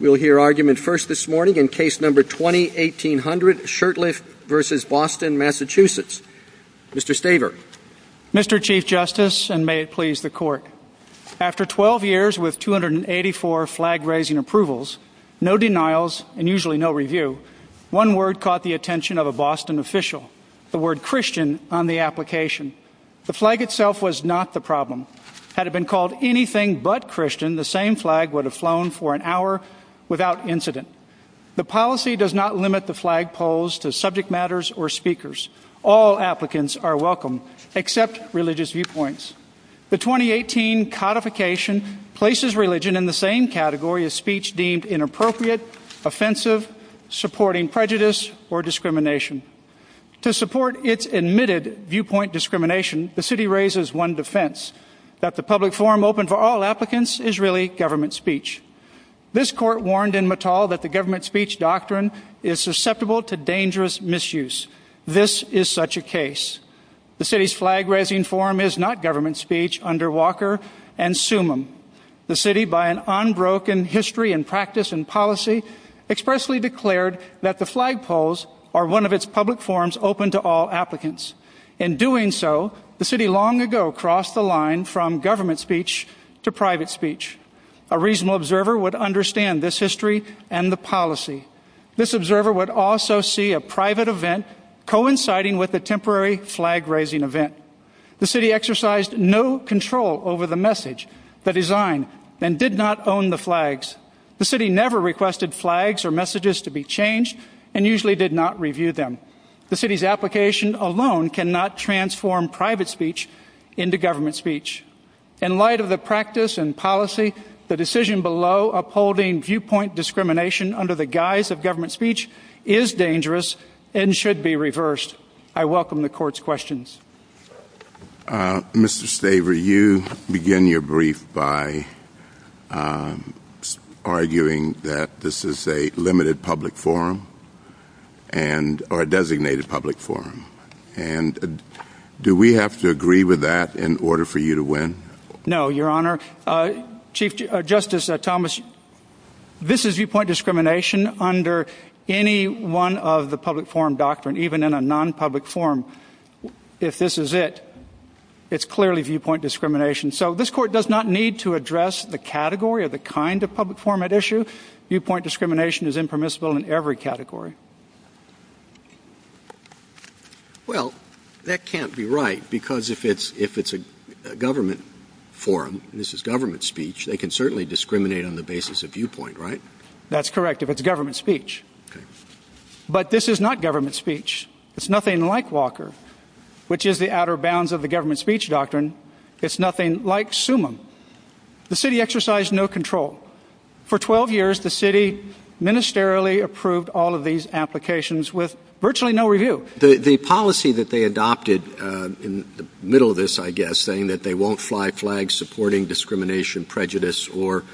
We'll hear argument first this morning in Case No. 20-1800, Shurtleff v. Boston, Massachusetts. Mr. Staver. Mr. Chief Justice, and may it please the Court. After 12 years with 284 flag-raising approvals, no denials, and usually no review, one word caught the attention of a Boston official, the word Christian on the application. The flag itself was not the problem. Had it been called anything but Christian, the same flag would have flown for an hour without incident. The policy does not limit the flagpoles to subject matters or speakers. All applicants are welcome, except religious viewpoints. The 2018 codification places religion in the same category as speech deemed inappropriate, offensive, supporting prejudice, or discrimination. To support its admitted viewpoint discrimination, the City raises one defense, that the public forum open for all applicants is really government speech. This Court warned in Mattall that the government speech doctrine is susceptible to dangerous misuse. This is such a case. The City's flag-raising forum is not government speech under Walker and Sumim. The City, by an unbroken history and practice and policy, expressly declared that the flagpoles are one of its public forums open to all applicants. In doing so, the City long ago crossed the line from government speech to private speech. A reasonable observer would understand this history and the policy. This observer would also see a private event coinciding with a temporary flag-raising event. The City exercised no control over the message, the design, and did not own the flags. The City never requested flags or messages to be changed and usually did not review them. The City's application alone cannot transform private speech into government speech. In light of the practice and policy, the decision below upholding viewpoint discrimination under the guise of government speech is dangerous and should be reversed. I welcome the Court's questions. Mr. Staver, you begin your brief by arguing that this is a limited public forum or a designated public forum. Do we have to agree with that in order for you to win? No, Your Honor. Chief Justice Thomas, this is viewpoint discrimination under any one of the public forum doctrine, even in a non-public forum. If this is it, it's clearly viewpoint discrimination. So this Court does not need to address the category or the kind of public forum at issue. Viewpoint discrimination is impermissible in every category. Well, that can't be right because if it's a government forum, this is government speech, they can certainly discriminate on the basis of viewpoint, right? That's correct if it's government speech. But this is not government speech. It's nothing like Walker, which is the outer bounds of the government speech doctrine. It's nothing like Summum. The city exercised no control. For 12 years, the city ministerially approved all of these applications with virtually no review. The policy that they adopted in the middle of this, I guess, saying that they won't fly flags supporting discrimination, prejudice, or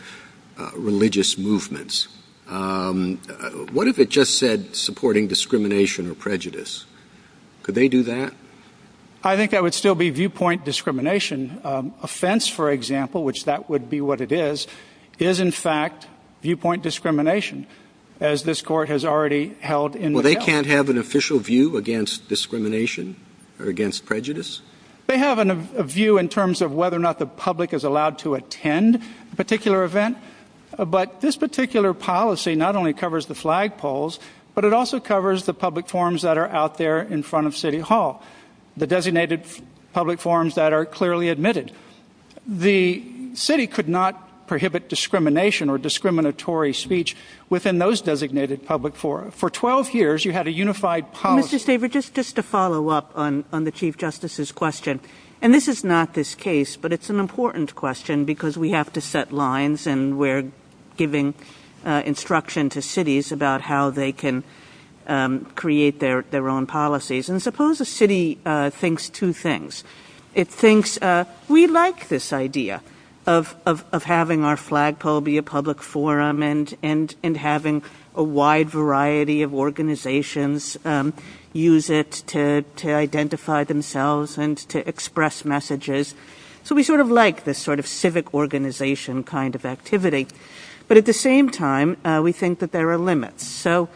religious movements. What if it just said supporting discrimination or prejudice? Could they do that? I think that would still be viewpoint discrimination. Offense, for example, which that would be what it is, is in fact viewpoint discrimination, as this Court has already held in the past. Well, they can't have an official view against discrimination or against prejudice? They have a view in terms of whether or not the public is allowed to attend a particular event. But this particular policy not only covers the flagpoles, but it also covers the public forums that are out there in front of City Hall, the designated public forums that are clearly admitted. The city could not prohibit discrimination or discriminatory speech within those designated public forums. For 12 years, you had a unified policy. Mr. Stavridis, just to follow up on the Chief Justice's question, and this is not this case, but it's an important question because we have to set lines and we're giving instruction to cities about how they can create their own policies. And suppose a city thinks two things. It thinks, we like this idea of having our flagpole be a public forum and having a wide variety of organizations use it to identify themselves and to express messages. So we sort of like this sort of civic organization kind of activity. But at the same time, we think that there are limits. So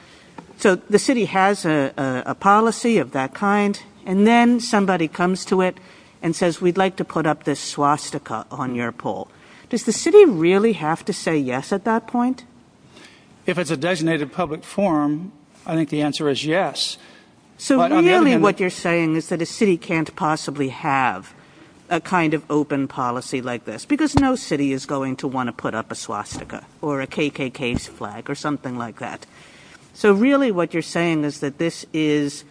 the city has a policy of that kind and then somebody comes to it and says, we'd like to put up this swastika on your pole. Does the city really have to say yes at that point? If it's a designated public forum, I think the answer is yes. So really what you're saying is that a city can't possibly have a kind of open policy like this because no city is going to want to put up a swastika or a KKK flag or something like that. So really what you're saying is that this is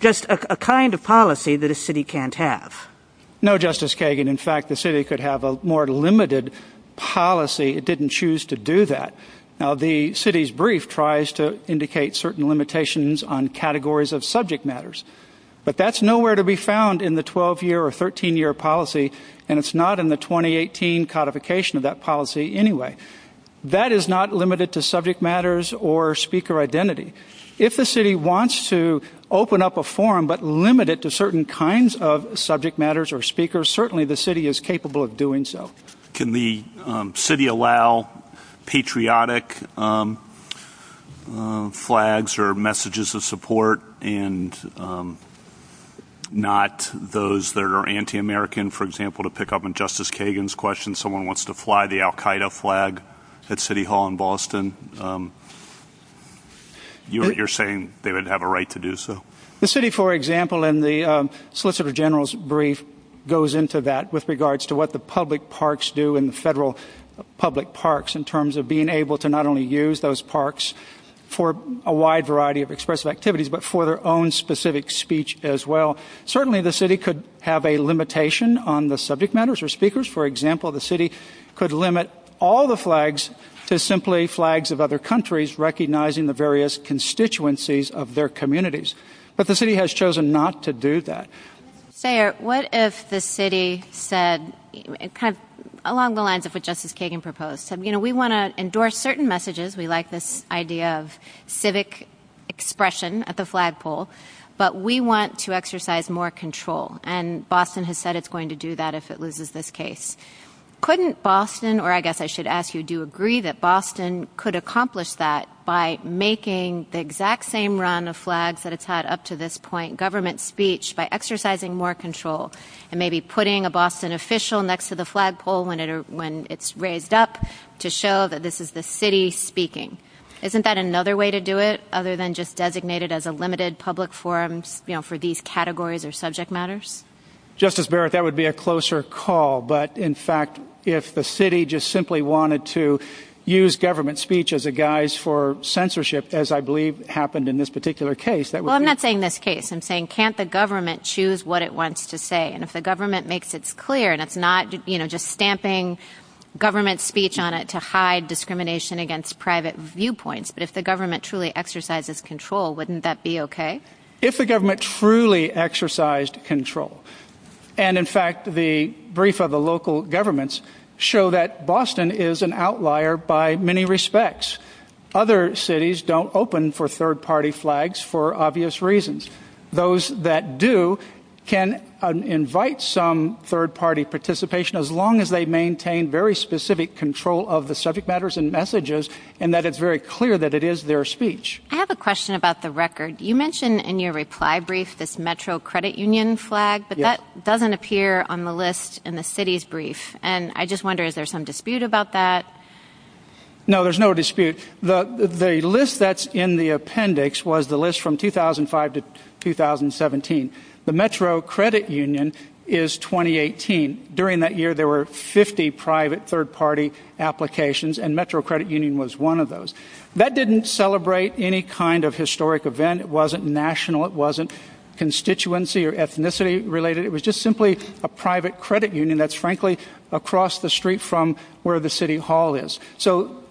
just a kind of policy that a city can't have. No, Justice Kagan, in fact, the city could have a more limited policy. It didn't choose to do that. Now, the city's brief tries to indicate certain limitations on categories of subject matters, but that's nowhere to be found in the 12 year or 13 year policy. And it's not in the 2018 codification of that policy anyway. That is not limited to subject matters or speaker identity. If the city wants to open up a forum but limit it to certain kinds of subject matters or speakers, certainly the city is capable of doing so. Can the city allow patriotic flags or messages of support and not those that are anti-American, for example, to pick up on Justice Kagan's question, someone wants to fly the Al Qaeda flag at City Hall in Boston? You're saying they would have a right to do so. The city, for example, in the solicitor general's brief, goes into that with regards to what the public parks do in the federal public parks in terms of being able to not only use those parks for a wide variety of expressive activities, but for their own specific speech as well. Certainly, the city could have a limitation on the subject matters or speakers. For example, the city could limit all the flags to simply flags of other countries recognizing the various constituencies of their communities. But the city has chosen not to do that. Sayer, what if the city said, along the lines of what Justice Kagan proposed, we want to endorse certain messages. We like this idea of civic expression at the flagpole, but we want to exercise more control. And Boston has said it's going to do that if it loses this case. Couldn't Boston, or I guess I should ask you, do you agree that Boston could accomplish that by making the exact same run of flags that it's had up to this point, government speech, by exercising more control and maybe putting a Boston official next to the flagpole when it's raised up to show that this is the city speaking? Isn't that another way to do it other than just designated as a limited public forum for these categories or subject matters? Justice Barrett, that would be a closer call. But in fact, if the city just simply wanted to use government speech as a guise for censorship, as I believe happened in this particular case. Well, I'm not saying this case and saying, can't the government choose what it wants to say? And if the government makes it clear and it's not just stamping government speech on it to hide discrimination against private viewpoints, but if the government truly exercises control, wouldn't that be OK? If the government truly exercised control and in fact, the brief of the local governments show that Boston is an outlier by many respects. Other cities don't open for third party flags for obvious reasons. Those that do can invite some third party participation as long as they maintain very specific control of the subject matters and messages and that it's very clear that it is their speech. I have a question about the record. You mentioned in your reply brief this metro credit union flag, but that doesn't appear on the list in the city's brief. And I just wonder, is there some dispute about that? No, there's no dispute. The list that's in the appendix was the list from 2005 to 2017. The metro credit union is 2018. During that year, there were 50 private third party applications and metro credit union was one of those that didn't celebrate any kind of historic event. It wasn't national. It wasn't constituency or ethnicity related. It was just simply a private credit union that's frankly across the street from where the city hall is. So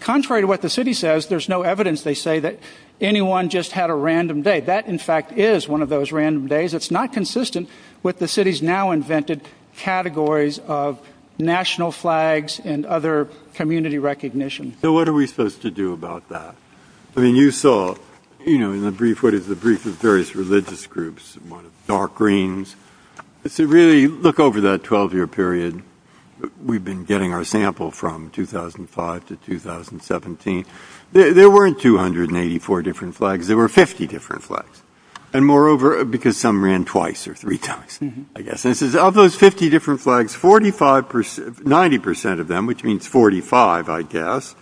contrary to what the city says, there's no evidence they say that anyone just had a random day. That, in fact, is one of those random days. It's not consistent with the city's now invented categories of national flags and other community recognition. So what are we supposed to do about that? I mean, you saw in the brief what is the brief of various religious groups, dark greens. If you really look over that 12 year period, we've been getting our sample from 2005 to 2017. There weren't 284 different flags. There were 50 different flags. And moreover, because some ran twice or three times, I guess this is of those 50 different flags, 45 percent, 90 percent of them, which means 45, I guess,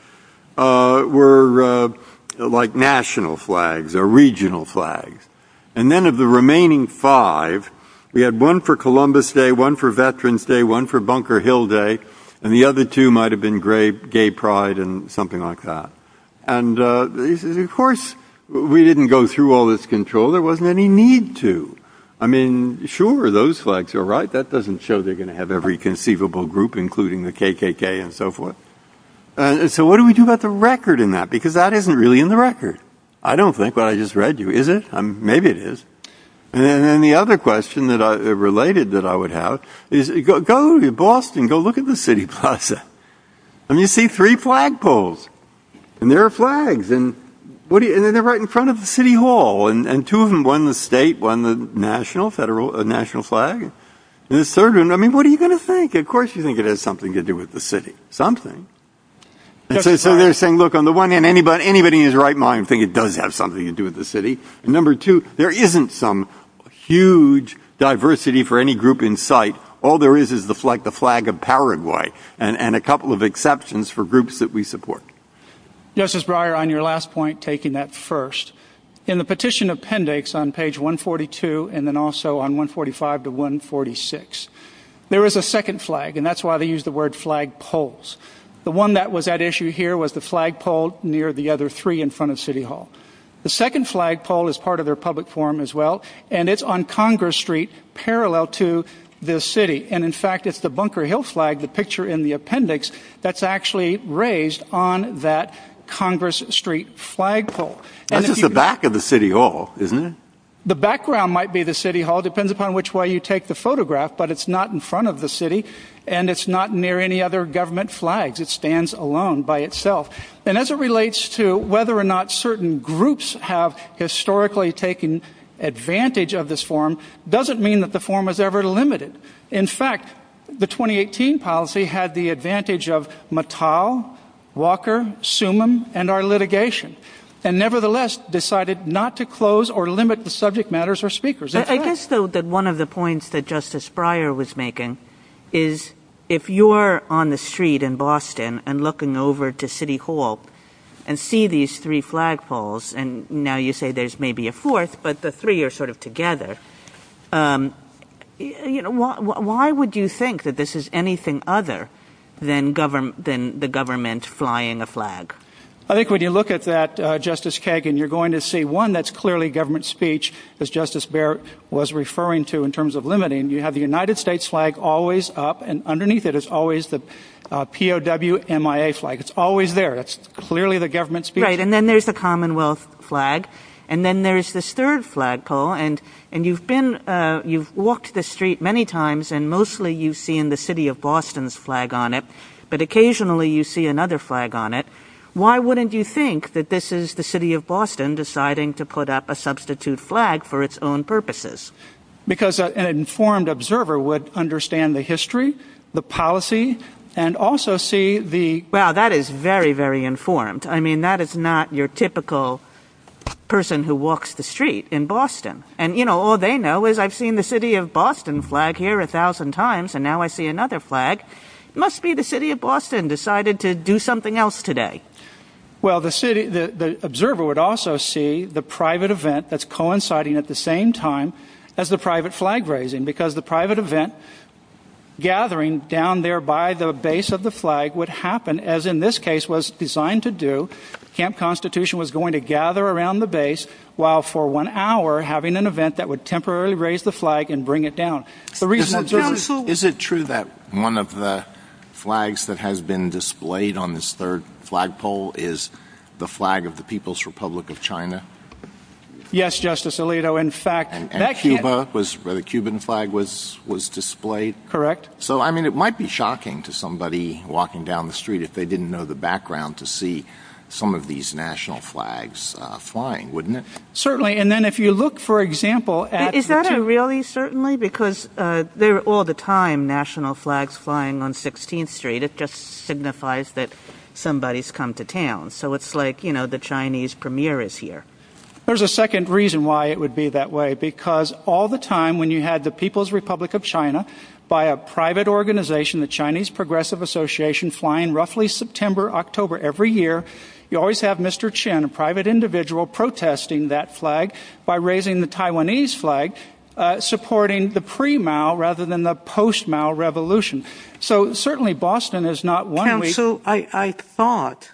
were like national flags or regional flags. And then of the remaining five, we had one for Columbus Day, one for Veterans Day, one for Bunker Hill Day, and the other two might have been great gay pride and something like that. And of course, we didn't go through all this control. There wasn't any need to. I mean, sure, those flags are right. That doesn't show they're going to have every conceivable group, including the KKK and so forth. So what do we do about the record in that? Because that isn't really in the record. I don't think what I just read you is it? Maybe it is. And then the other question that I related that I would have is go to Boston, go look at the city plaza. And you see three flagpoles and there are flags. And they're right in front of the city hall. And two of them, one the state, one the national, federal, national flag. And the third one, I mean, what are you going to think? Of course you think it has something to do with the city, something. So they're saying, look, on the one hand, anybody in his right mind think it does have something to do with the city. And number two, there isn't some huge diversity for any group in sight. All there is, is the flag, the flag of Paraguay and a couple of exceptions for groups that we support. Justice Breyer, on your last point, taking that first in the petition appendix on page 142 and then also on 145 to 146, there was a second flag and that's why they use the word flagpoles. The one that was at issue here was the flagpole near the other three in front of City Hall. The second flagpole is part of their public forum as well. And it's on Congress Street, parallel to the city. And in fact, it's the Bunker Hill flag, the picture in the appendix that's actually raised on that Congress Street flagpole. And this is the back of the city hall, isn't it? The background might be the city hall, depends upon which way you take the photograph. But it's not in front of the city and it's not near any other government flags. It stands alone by itself. And as it relates to whether or not certain groups have historically taken advantage of this forum, doesn't mean that the forum is ever limited. In fact, the 2018 policy had the advantage of Mattel, Walker, Sumim and our litigation and nevertheless decided not to close or limit the subject matters or speakers. I guess, though, that one of the points that Justice Breyer was making is if you're on the street in Boston and looking over to City Hall and see these three flagpoles and now you say there's maybe a fourth, but the three are sort of together. You know, why would you think that this is anything other than government than the government flying a flag? I think when you look at that, Justice Kagan, you're going to see one that's clearly government speech, as Justice Barrett was referring to in terms of limiting. And you have the United States flag always up and underneath it is always the POW MIA flag. It's always there. It's clearly the government's right. And then there's the Commonwealth flag. And then there is this third flagpole. And and you've been you've walked the street many times and mostly you see in the city of Boston's flag on it. But occasionally you see another flag on it. Why wouldn't you think that this is the city of Boston deciding to put up a substitute flag for its own purposes? Because an informed observer would understand the history, the policy and also see the. Well, that is very, very informed. I mean, that is not your typical person who walks the street in Boston. And, you know, all they know is I've seen the city of Boston flag here a thousand times and now I see another flag must be the city of Boston decided to do something else today. Well, the city, the observer would also see the private event that's coinciding at the same time as the private flag raising, because the private event gathering down there by the base of the flag would happen, as in this case was designed to do. Camp Constitution was going to gather around the base while for one hour having an event that would temporarily raise the flag and bring it down. The reason that is, is it true that one of the flags that has been displayed on this third flagpole is the flag of the People's Republic of China? Yes, Justice Alito, in fact, that was where the Cuban flag was was displayed. Correct. So, I mean, it might be shocking to somebody walking down the street if they didn't know the background to see some of these national flags flying, wouldn't it? Certainly. And then if you look, for example, is that a really certainly because they're all the time national flags flying on 16th Street, it just signifies that somebody's come to town. So it's like, you know, the Chinese premiere is here. There's a second reason why it would be that way, because all the time when you had the People's Republic of China by a private organization, the Chinese Progressive Association, flying roughly September, October every year, you always have Mr. Chen, a private individual, protesting that flag by raising the Taiwanese flag, supporting the pre-Mao rather than the post-Mao revolution. So certainly Boston is not one. So I thought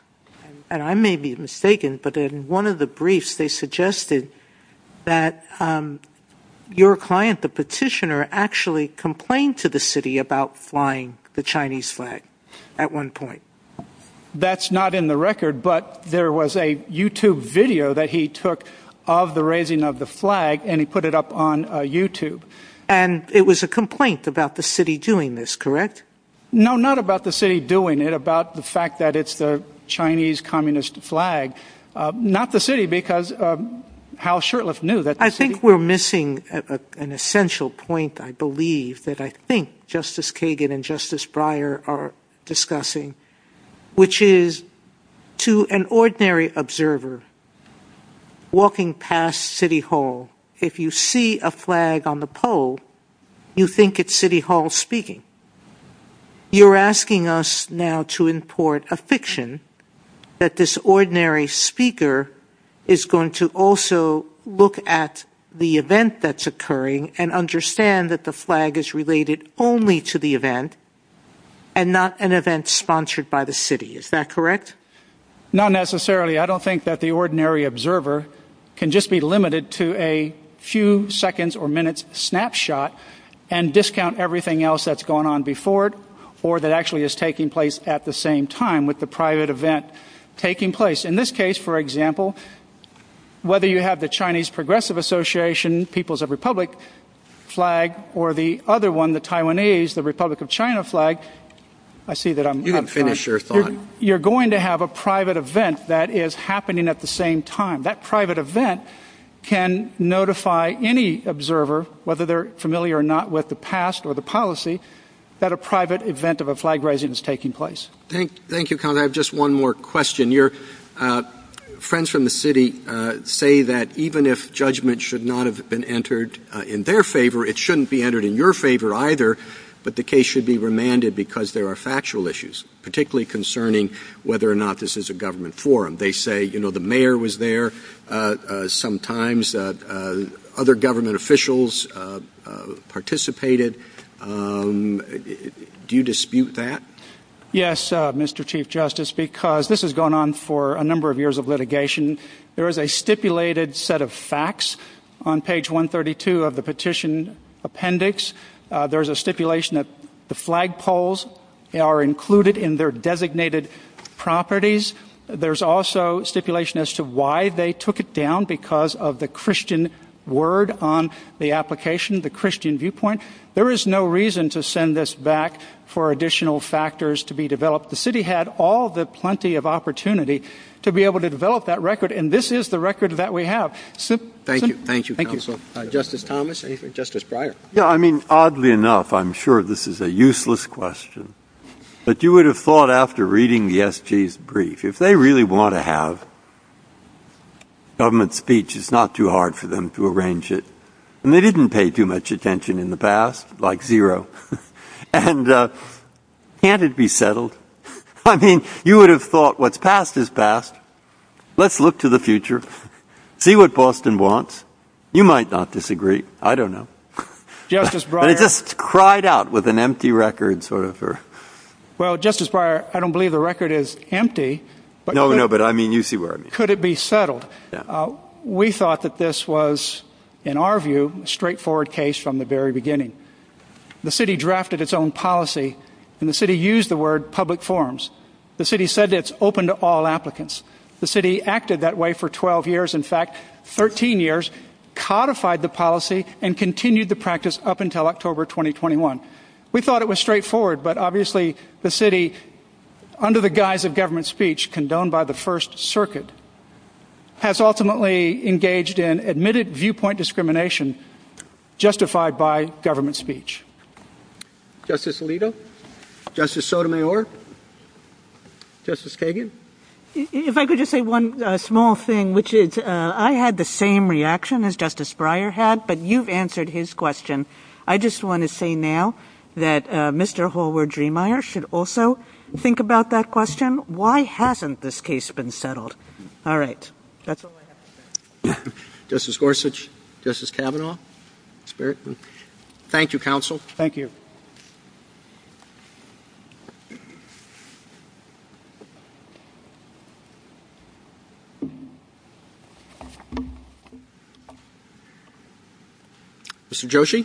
and I may be mistaken, but in one of the briefs they suggested that your client, the petitioner, actually complained to the city about flying the Chinese flag at one point. That's not in the record, but there was a YouTube video that he took of the raising of the flag and he put it up on YouTube. And it was a complaint about the city doing this, correct? No, not about the city doing it, about the fact that it's the Chinese communist flag, not the city because of how Shurtleff knew that. I think we're missing an essential point. I believe that I think Justice Kagan and Justice Breyer are discussing, which is to an ordinary observer walking past City Hall, if you see a flag on the pole, you think it's City Hall speaking. You're asking us now to import a fiction that this ordinary speaker is going to also look at the event that's occurring and understand that the flag is related only to the event and not an event sponsored by the city. Is that correct? Not necessarily. I don't think that the ordinary observer can just be limited to a few seconds or minutes snapshot and discount everything else that's going on before it or that actually is taking place at the same time with the private event taking place. In this case, for example, whether you have the Chinese Progressive Association, People's Republic flag or the other one, the Taiwanese, the Republic of China flag. I see that I'm going to finish your thought. You're going to have a private event that is happening at the same time. That private event can notify any observer, whether they're familiar or not with the past or the policy, that a private event of a flag raising is taking place. Thank you. I have just one more question. Your friends from the city say that even if judgment should not have been entered in their favor, it shouldn't be entered in your favor either. But the case should be remanded because there are factual issues, particularly concerning whether or not this is a government forum. They say, you know, the mayor was there sometimes that other government officials participated. Do you dispute that? Yes, Mr. Chief Justice, because this has gone on for a number of years of litigation. There is a stipulated set of facts on page 132 of the petition appendix. There's a stipulation that the flagpoles are included in their designated properties. There's also stipulation as to why they took it down because of the Christian word on the application, the Christian viewpoint. There is no reason to send this back for additional factors to be developed. The city had all the plenty of opportunity to be able to develop that record. And this is the record that we have. Thank you. Thank you. Thank you, Justice Thomas and Justice Breyer. Yeah, I mean, oddly enough, I'm sure this is a useless question, but you would have thought after reading the S.P.'s brief, if they really want to have government speech, it's not too hard for them to arrange it. And they didn't pay too much attention in the past, like zero. And can't it be settled? I mean, you would have thought what's past is past. Let's look to the future, see what Boston wants. You might not disagree. I don't know. Justice Breyer just cried out with an empty record sort of her. Well, Justice Breyer, I don't believe the record is empty. No, no. But I mean, you see where could it be settled? We thought that this was, in our view, straightforward case from the very beginning. The city drafted its own policy and the city used the word public forums. The city said it's open to all applicants. The city acted that way for 12 years. In fact, 13 years codified the policy and continued the practice up until October 2021. We thought it was straightforward, but obviously the city, under the guise of government speech, condoned by the First Circuit, has ultimately engaged in admitted viewpoint discrimination justified by government speech. Justice Alito, Justice Sotomayor, Justice Kagan. If I could just say one small thing, which is I had the same reaction as Justice Breyer had, but you've answered his question. I just want to say now that Mr. Hallward-Driemeier should also think about that question. Why hasn't this case been settled? All right. That's all I have. Justice Gorsuch, Justice Kavanaugh. Thank you, counsel. Thank you. Mr. Joshi.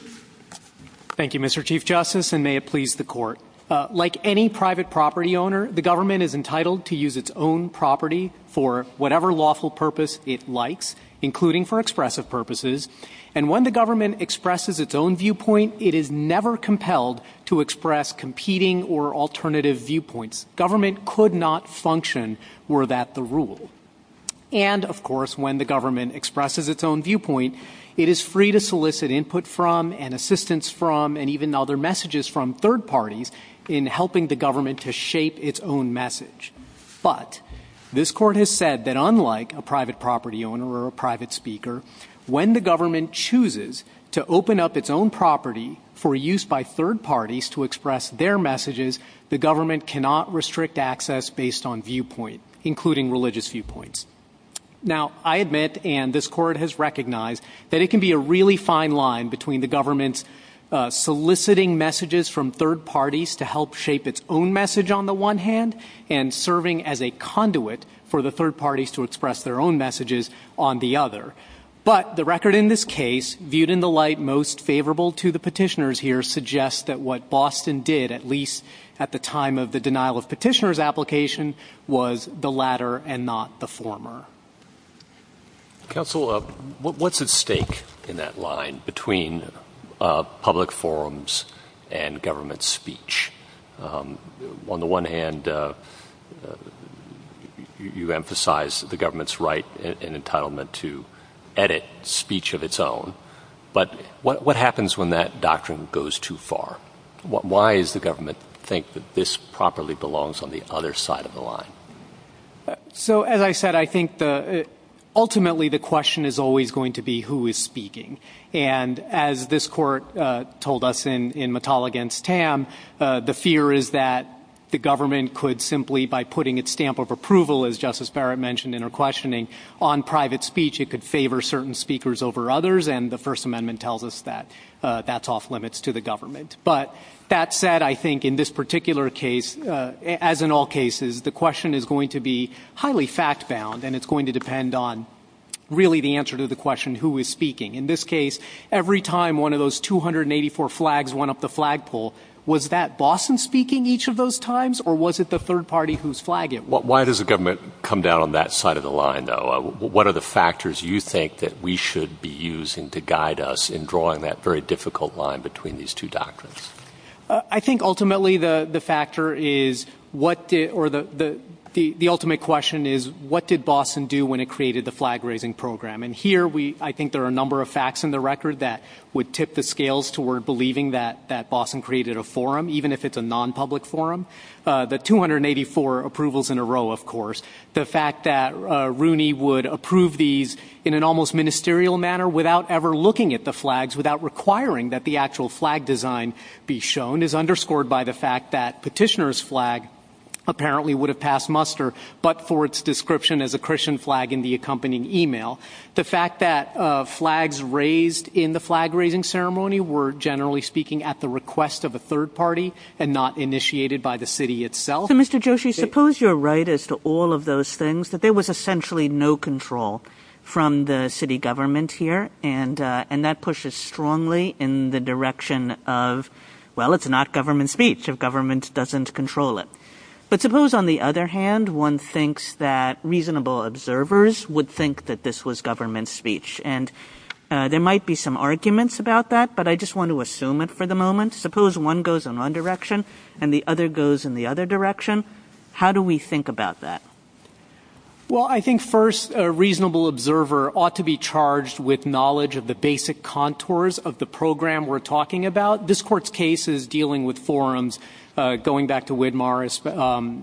Thank you, Mr. Chief Justice, and may it please the court. Like any private property owner, the government is entitled to use its own property for whatever lawful purpose it likes, including for expressive purposes. And when the government expresses its own viewpoint, it is never compelled to express competing or alternative viewpoints. Government could not function were that the rule. And, of course, when the government expresses its own viewpoint, it is free to solicit input from and assistance from and even other messages from third parties in helping the government to shape its own message. But this court has said that unlike a private property owner or a private speaker, when the government chooses to open up its own property for use by third parties to express their messages, the government cannot restrict access based on viewpoint, including religious viewpoints. Now, I admit and this court has recognized that it can be a really fine line between the government soliciting messages from third parties to help shape its own message on the one hand and serving as a conduit for the third parties to express their own messages on the other. But the record in this case viewed in the light most favorable to the petitioners here suggests that what Boston did, at least at the time of the denial of petitioners application was the latter and not the former. Council of what's at stake in that line between public forums and government speech on the one hand, you emphasize the government's right and entitlement to edit speech of its own. But what happens when that doctrine goes too far? Why is the government think that this properly belongs on the other side of the line? So, as I said, I think the ultimately the question is always going to be who is speaking. And as this court told us in in Mital against Tam, the fear is that the government could simply by putting its stamp of approval, as Justice Barrett mentioned in her questioning on private speech, it could favor certain speakers over others. And the First Amendment tells us that that's off limits to the government. But that said, I think in this particular case, as in all cases, the question is going to be highly fact bound. And it's going to depend on really the answer to the question who is speaking in this case. Every time one of those two hundred and eighty four flags went up the flagpole, was that Boston speaking each of those times or was it the third party who's flagging? Why does the government come down on that side of the line? Now, what are the factors you think that we should be using to guide us in drawing that very difficult line between these two doctrines? I think ultimately the factor is what or the the ultimate question is, what did Boston do when it created the flag raising program? And here we I think there are a number of facts in the record that would tip the scales toward believing that that Boston created a forum, even if it's a nonpublic forum. The two hundred and eighty four approvals in a row, of course, the fact that Rooney would approve these in an almost ministerial manner without ever looking at the flags, without requiring that the actual flag design be shown, is underscored by the fact that petitioners flag apparently would have passed muster, but for its description as a Christian flag in the accompanying email. The fact that flags raised in the flag raising ceremony were generally speaking at the request of a third party and not initiated by the city itself. So, Mr. Joshi, suppose you're right as to all of those things, that there was essentially no control from the city government here. And and that pushes strongly in the direction of, well, it's not government speech of government doesn't control it. But suppose, on the other hand, one thinks that reasonable observers would think that this was government speech and there might be some arguments about that, but I just want to assume it for the moment. Suppose one goes in one direction and the other goes in the other direction. How do we think about that? Well, I think first, a reasonable observer ought to be charged with knowledge of the basic contours of the program we're talking about. This court's case is dealing with forums going back to Widmar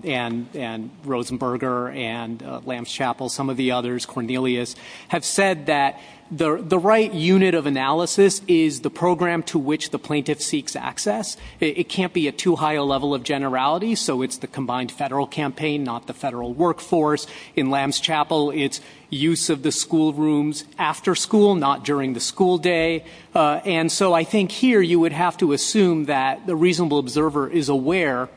and Rosenberger and Lamb's Chapel. Some of the others Cornelius have said that the right unit of analysis is the program to which the plaintiff seeks access. It can't be a too high a level of generality. So it's the combined federal campaign, not the federal workforce in Lamb's Chapel. It's use of the school rooms after school, not during the school day. And so I think here you would have to assume that the reasonable observer is aware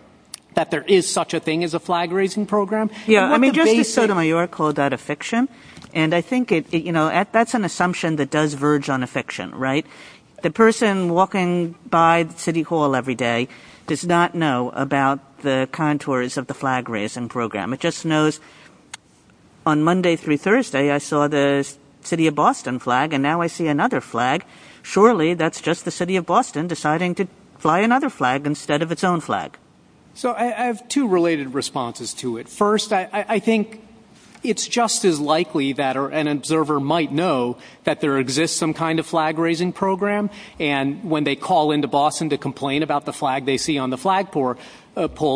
that there is such a thing as a flag raising program. Yeah, I mean, just so that you are called out a fiction. And I think, you know, that's an assumption that does verge on a fiction, right? The person walking by City Hall every day does not know about the contours of the flag raising program. It just knows on Monday through Thursday, I saw the city of Boston flag and now I see another flag. Surely that's just the city of Boston deciding to fly another flag instead of its own flag. So I have two related responses to it. First, I think it's just as likely that an observer might know that there exists some kind of flag raising program. And when they call into Boston to complain about the flag they see on the flagpole,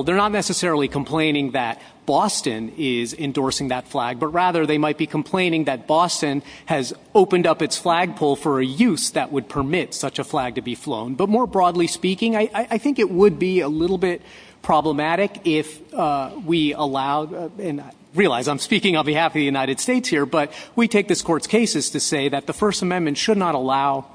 they're not necessarily complaining that Boston is endorsing that flag, but rather they might be complaining that Boston has opened up its flagpole for a use that would permit such a flag to be flown. But more broadly speaking, I think it would be a little bit problematic if we allow and realize I'm speaking on behalf of the United States here. But we take this court's cases to say that the First Amendment should not allow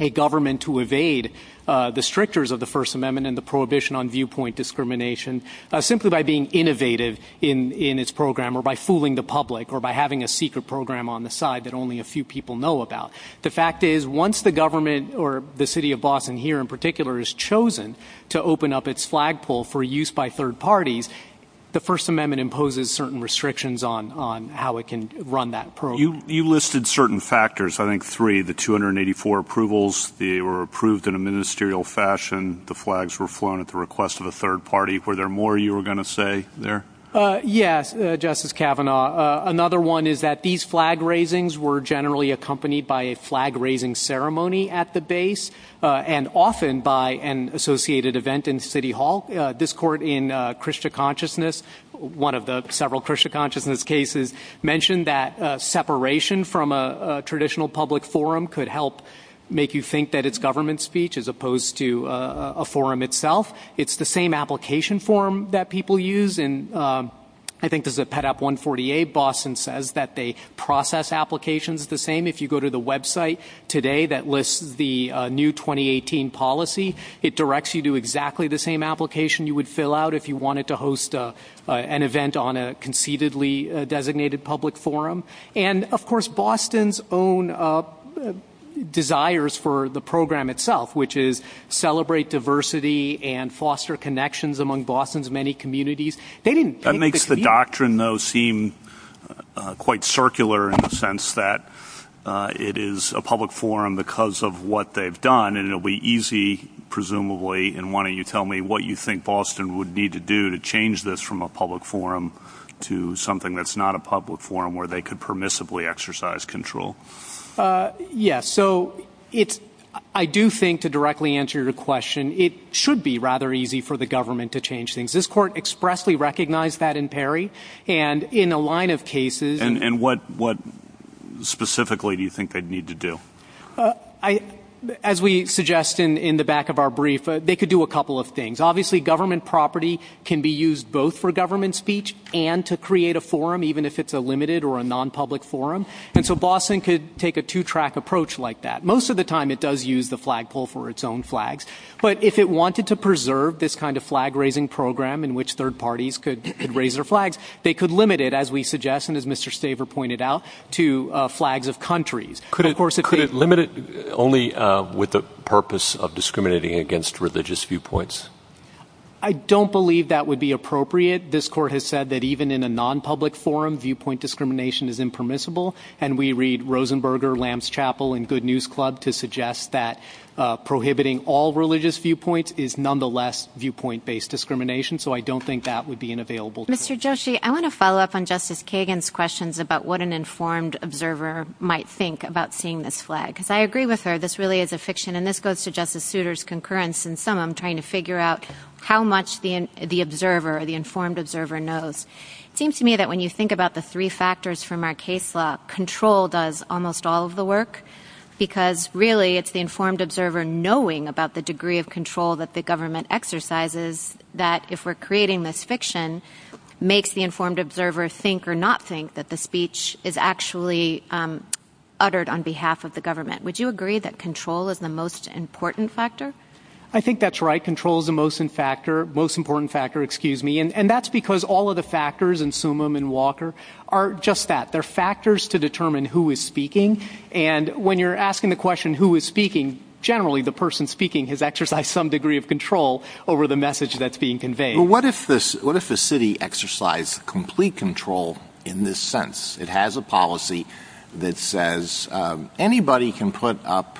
a government to evade the strictures of the First Amendment and the prohibition on viewpoint discrimination simply by being innovative in its program or by fooling the public or by having a secret program on the side that only a few people know about. The fact is, once the government or the city of Boston here in particular is chosen to open up its flagpole for use by third parties, the First Amendment imposes certain restrictions on how it can run that program. You listed certain factors, I think three, the 284 approvals, they were approved in a ministerial fashion, the flags were flown at the request of a third party. Were there more you were going to say there? Yes, Justice Kavanaugh, another one is that these flag raisings were generally accompanied by a flag raising ceremony at the base and often by an associated event in City Hall. This court in Christian consciousness, one of the several Christian consciousness cases mentioned that separation from a traditional public forum could help make you think that it's government speech as opposed to a forum itself. It's the same application form that people use, and I think there's a pet up 148 Boston says that they process applications the same. If you go to the website today that lists the new 2018 policy, it directs you to exactly the same application you would fill out if you wanted to host an event on a conceitedly designated public forum. And of course, Boston's own desires for the program itself, which is celebrate diversity and foster connections among Boston's many communities. That makes the doctrine seem quite circular in the sense that it is a public forum because of what they've done. And it'll be easy, presumably. And why don't you tell me what you think Boston would need to do to change this from a public forum to something that's not a public forum where they could permissibly exercise control? Yes. So it's I do think to directly answer your question, it should be rather easy for the government to change things. This court expressly recognized that in Perry and in a line of cases. And what what specifically do you think they'd need to do? I as we suggest in the back of our brief, they could do a couple of things. Obviously, government property can be used both for government speech and to create a forum, even if it's a limited or a nonpublic forum. And so Boston could take a two track approach like that. Most of the time it does use the flagpole for its own flags. But if it wanted to preserve this kind of flag raising program in which third parties could raise their flags, they could limit it, as we suggest. And as Mr. Staver pointed out to flags of countries could, of course, it could limit it only with the purpose of discriminating against religious viewpoints. I don't believe that would be appropriate. This court has said that even in a nonpublic forum, viewpoint discrimination is impermissible. And we read Rosenberger, Lambs Chapel and Good News Club to suggest that prohibiting all religious viewpoints is nonetheless viewpoint based discrimination. So I don't think that would be an available. Mr. Joshi, I want to follow up on Justice Kagan's questions about what an informed observer might think about seeing this flag, because I agree with her. This really is a fiction. And this goes to Justice Souter's concurrence. And some I'm trying to figure out how much the observer, the informed observer knows. It seems to me that when you think about the three factors from our case law, control does almost all of the work because really it's the informed observer knowing about the degree of control that the government exercises, that if we're creating this fiction, makes the informed observer think or not think that the speech is actually uttered on behalf of the government. Would you agree that control is the most important factor? I think that's right. Control is the most important factor. And that's because all of the factors in Summum and Walker are just that. They're factors to determine who is speaking. And when you're asking the question who is speaking, generally the person speaking has exercised some degree of control over the message that's being conveyed. What if the city exercised complete control in this sense? It has a policy that says anybody can put up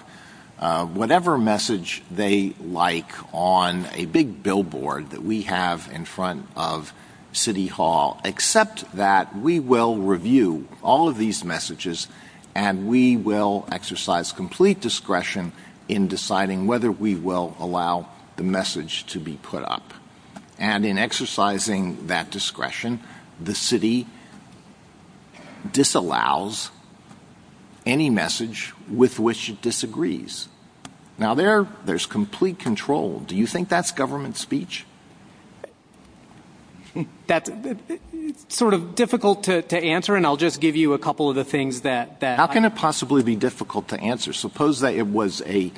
whatever message they like on a big billboard that we have in front of City Hall, except that we will review all of these messages and we will exercise complete discretion in deciding whether we will allow the message to be put up. And in exercising that discretion, the city disallows any message with which it disagrees. Now, there there's complete control. Do you think that's government speech? That's sort of difficult to answer, and I'll just give you a couple of the things that that can possibly be difficult to answer. Suppose that it was a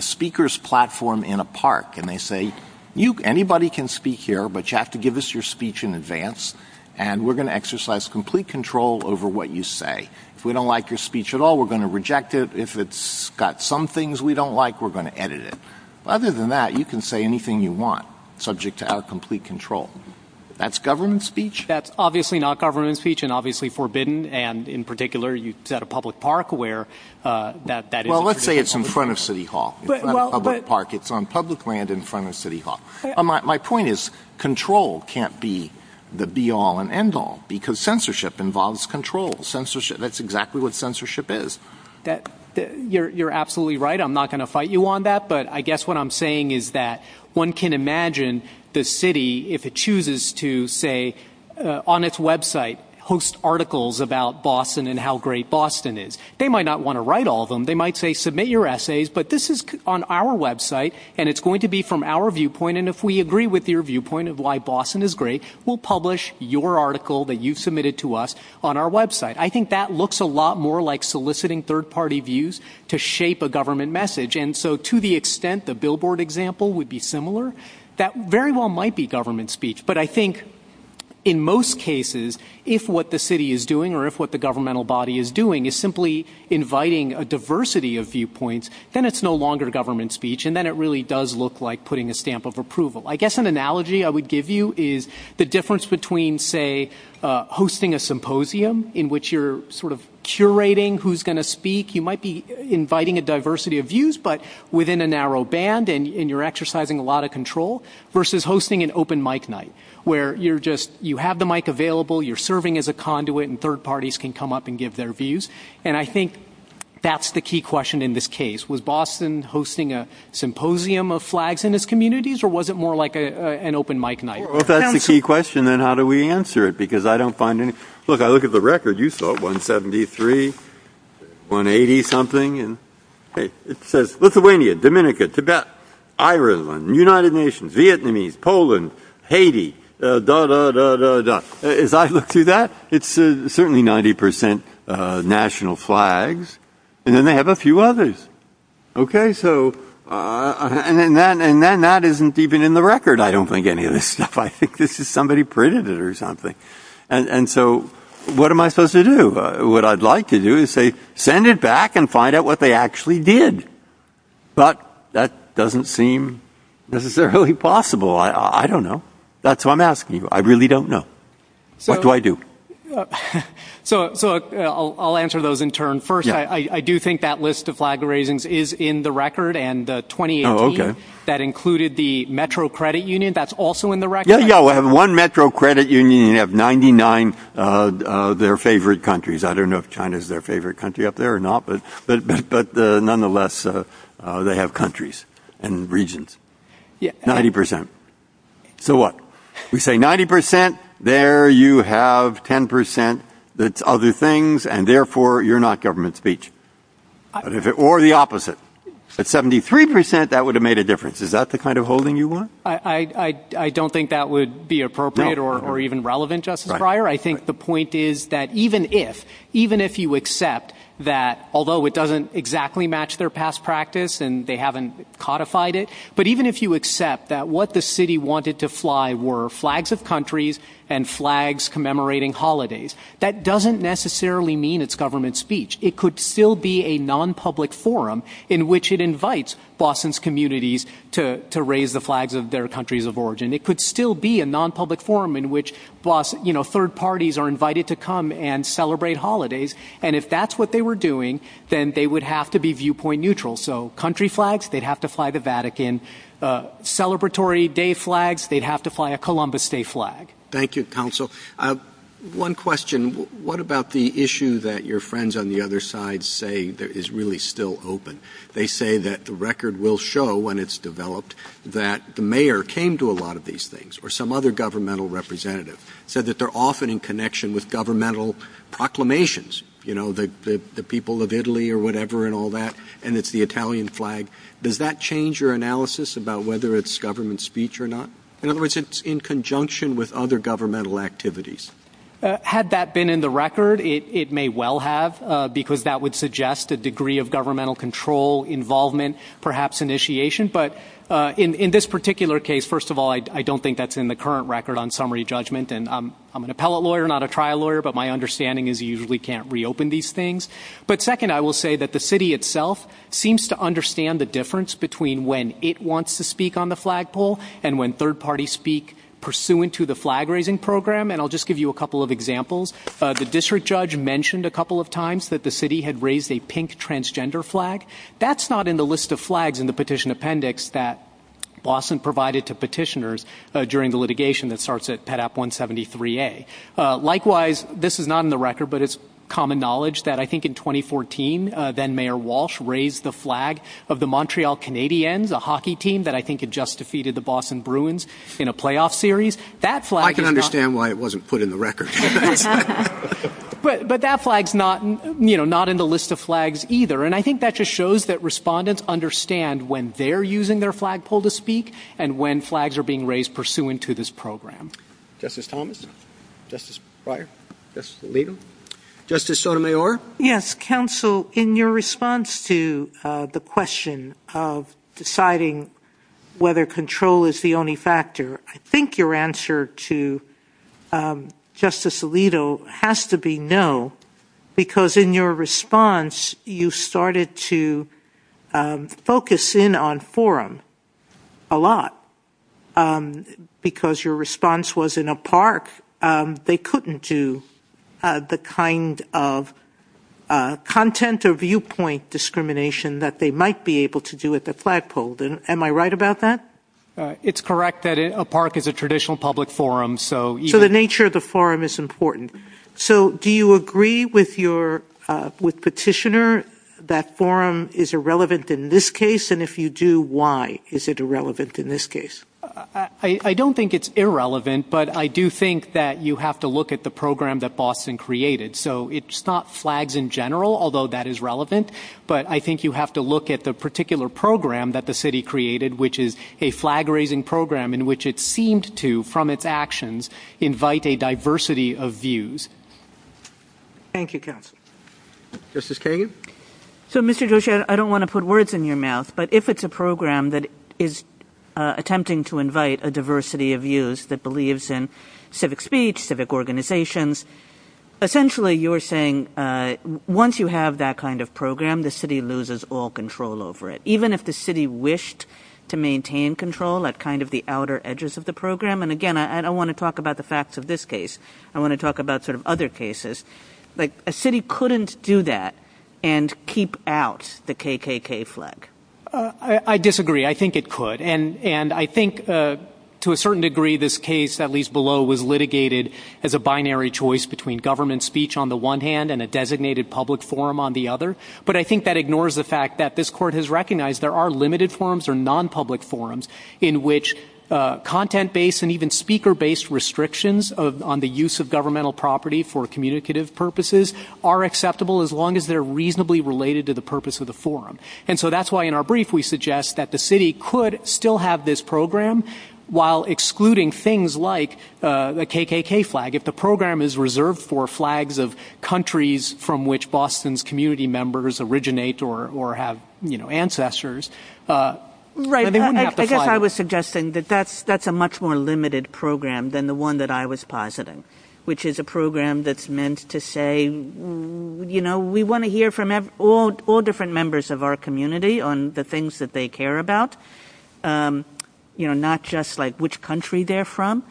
speaker's platform in a park and they say, anybody can speak here, but you have to give us your speech in advance and we're going to exercise complete control over what you say. If we don't like your speech at all, we're going to reject it. If it's got some things we don't like, we're going to edit it. Other than that, you can say anything you want subject to our complete control. That's government speech. That's obviously not government speech and obviously forbidden. And in particular, you've got a public park where that that. Well, let's say it's in front of City Hall Park. It's on public land in front of City Hall. My point is control can't be the be all and end all because censorship involves control. Censorship. That's exactly what censorship is that you're absolutely right. I'm not going to fight you on that. But I guess what I'm saying is that one can imagine the city, if it chooses to say on its website, host articles about Boston and how great Boston is. They might not want to write all of them. They might say, submit your essays. But this is on our website and it's going to be from our viewpoint. And if we agree with your viewpoint of why Boston is great, we'll publish your article that you've submitted to us on our website. I think that looks a lot more like soliciting third party views to shape a government message. And so to the extent the billboard example would be similar, that very well might be government speech. But I think in most cases, if what the city is doing or if what the governmental body is doing is simply inviting a diversity of viewpoints, then it's no longer government speech. And then it really does look like putting a stamp of approval. I guess an analogy I would give you is the difference between, say, hosting a symposium in which you're sort of curating who's going to speak. You might be inviting a diversity of views, but within a narrow band and you're exercising a lot of control versus hosting an open mic night where you're just you have the mic available. You're serving as a conduit and third parties can come up and give their views. And I think that's the key question in this case. Was Boston hosting a symposium of flags in its communities or was it more like an open mic night? Well, that's the key question. Then how do we answer it? Look, I look at the record, you saw 173, 180 something, and it says Lithuania, Dominica, Tibet, Ireland, United Nations, Vietnamese, Poland, Haiti, dah, dah, dah, dah, dah. As I look through that, it's certainly 90 percent national flags and then they have a few others. Okay, so and then that isn't even in the record, I don't think, anyway. I think this is somebody printed it or something. And so what am I supposed to do? What I'd like to do is say, send it back and find out what they actually did. But that doesn't seem necessarily possible. I don't know. That's why I'm asking you. I really don't know. So what do I do? So I'll answer those in turn. First, I do think that list of flag raisings is in the record. And 2018, that included the metro credit union. That's also in the record. Yeah, yeah, we have one metro credit union, you have 99 of their favorite countries. I don't know if China is their favorite country up there or not, but nonetheless, they have countries and regions. 90 percent. So what? We say 90 percent, there you have 10 percent that's other things, and therefore you're not government speech. Or the opposite. At 73 percent, that would have made a difference. Is that the kind of holding you want? I don't think that would be appropriate or even relevant, Justice Breyer. I think the point is that even if even if you accept that, although it doesn't exactly match their past practice and they haven't codified it. But even if you accept that what the city wanted to fly were flags of countries and flags commemorating holidays, that doesn't necessarily mean it's government speech. It could still be a nonpublic forum in which it invites Boston's communities to raise the flags of their countries of origin. It could still be a nonpublic forum in which third parties are invited to come and celebrate holidays. And if that's what they were doing, then they would have to be viewpoint neutral. So country flags, they'd have to fly the Vatican celebratory day flags. They'd have to fly a Columbus Day flag. Thank you, counsel. One question, what about the issue that your friends on the other side say that is really still open? They say that the record will show when it's developed that the mayor came to a lot of these things or some other governmental representative said that they're often in connection with governmental proclamations. You know, the people of Italy or whatever and all that. And it's the Italian flag. Does that change your analysis about whether it's government speech or not? In other words, it's in conjunction with other governmental activities. Had that been in the record, it may well have, because that would suggest a degree of governmental control involvement, perhaps initiation. But in this particular case, first of all, I don't think that's in the current record on summary judgment. And I'm an appellate lawyer, not a trial lawyer. But my understanding is you usually can't reopen these things. But second, I will say that the city itself seems to understand the difference between when it wants to speak on the flagpole and when third parties speak pursuant to the flag raising program. And I'll just give you a couple of examples. The district judge mentioned a couple of times that the city had raised a pink transgender flag. That's not in the list of flags in the petition appendix that Boston provided to petitioners during the litigation that starts at Pet App 173A. Likewise, this is not in the record, but it's common knowledge that I think in 2014, then Mayor Walsh raised the flag of the Montreal Canadiens, a hockey team that I think had just defeated the Boston Bruins in a playoff series. That's like I can understand why it wasn't put in the record. But but that flag's not, you know, not in the list of flags either. And I think that just shows that respondents understand when they're using their flagpole to speak and when flags are being raised pursuant to this program. Justice Thomas. Justice Breyer. Justice Alito. Justice Sotomayor. Yes, counsel. In your response to the question of deciding whether control is the only factor, I think your answer to Justice Alito has to be no, because in your response, you started to focus in on forum a lot because your response was in a park. They couldn't do the kind of content or viewpoint discrimination that they might be able to do with the flagpole. Am I right about that? It's correct that a park is a traditional public forum. So the nature of the forum is important. So do you agree with your with Petitioner that forum is irrelevant in this case? And if you do, why is it irrelevant in this case? I don't think it's irrelevant, but I do think that you have to look at the program that Boston created. So it's not flags in general, although that is relevant. But I think you have to look at the particular program that the city created, which is a flag raising program in which it seemed to, from its actions, invite a diversity of views. Thank you. Justice Kagan. So, Mr. Joshi, I don't want to put words in your mouth, but if it's a program that is attempting to invite a diversity of views that believes in civic speech, civic organizations, essentially, you're saying once you have that kind of program, the city loses all control over it, even if the city wished to maintain control at kind of the outer edges of the program. And again, I don't want to talk about the facts of this case. I want to talk about sort of other cases. But a city couldn't do that and keep out the KKK flag. I disagree. I think it could. And and I think to a certain degree, this case, at least below, was litigated as a binary choice between government speech on the one hand and a designated public forum on the other. But I think that ignores the fact that this court has recognized there are limited forums or nonpublic forums in which content based and even speaker based restrictions on the use of governmental property for communicative purposes are acceptable as long as they're reasonably related to the purpose of the forum. And so that's why in our brief, we suggest that the city could still have this program while excluding things like the KKK flag. If the program is reserved for flags of countries from which Boston's community members originate or have ancestors. Right. I guess I was suggesting that that's that's a much more limited program than the one that I was positing, which is a program that's meant to say, you know, we want to hear from all different members of our community on the things that they care about, you know, not just like which country they're from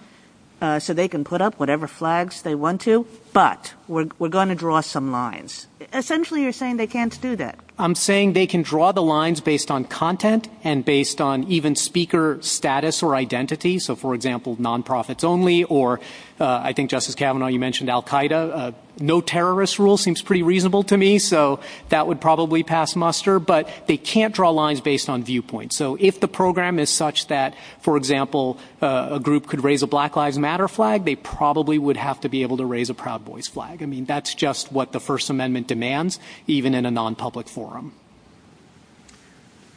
so they can put up whatever flags they want to. But we're going to draw some lines. Essentially, you're saying they can't do that. I'm saying they can draw the lines based on content and based on even speaker status or identity. So, for example, nonprofits only or I think, Justice Kavanaugh, you mentioned Al Qaeda. No terrorist rule seems pretty reasonable to me. So that would probably pass muster, but they can't draw lines based on viewpoints. So if the program is such that, for example, a group could raise a Black Lives Matter flag, they probably would have to be able to raise a proud voice flag. I mean, that's just what the First Amendment demands, even in a non-public forum.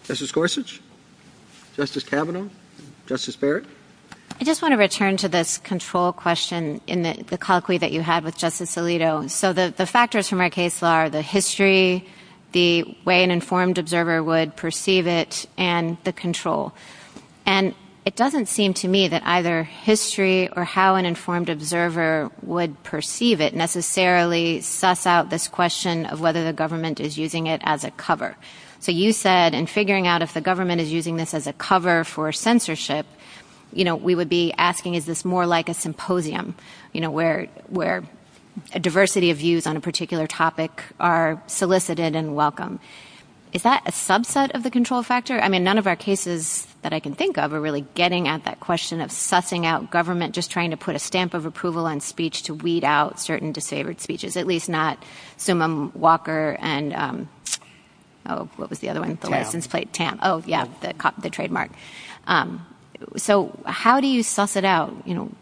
Justice Gorsuch, Justice Kavanaugh, Justice Barrett. I just want to return to this control question in the clock that you had with Justice Alito. So the factors from our case are the history, the way an informed observer would perceive it, and the control. And it doesn't seem to me that either history or how an informed observer would perceive it necessarily suss out this question of whether the government is using it as a cover. So you said in figuring out if the government is using this as a cover for censorship, you know, we would be asking, is this more like a symposium? You know, where a diversity of views on a particular topic are solicited and welcome. Is that a subset of the control factor? I mean, none of our cases that I can think of are really getting at that question of sussing out government, just trying to put a stamp of approval on speech to weed out certain disavowed speeches, at least not Summum Walker and what was the other one? Oh, yeah, the trademark. So how do you suss it out? You know,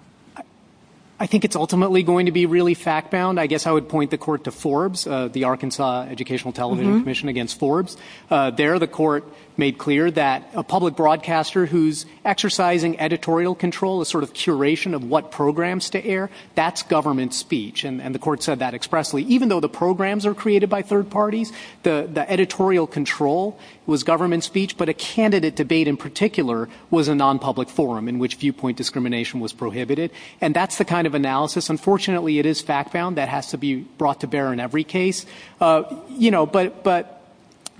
I think it's ultimately going to be really fact bound. I guess I would point the court to Forbes, the Arkansas Educational Television Commission against Forbes. There, the court made clear that a public broadcaster who's exercising editorial control, a sort of curation of what programs to air, that's government speech. And the court said that expressly, even though the programs are created by third parties, the editorial control was government speech. But a candidate debate in particular was a nonpublic forum in which viewpoint discrimination was prohibited. And that's the kind of analysis. Unfortunately, it is fact found that has to be brought to bear in every case, you know, but but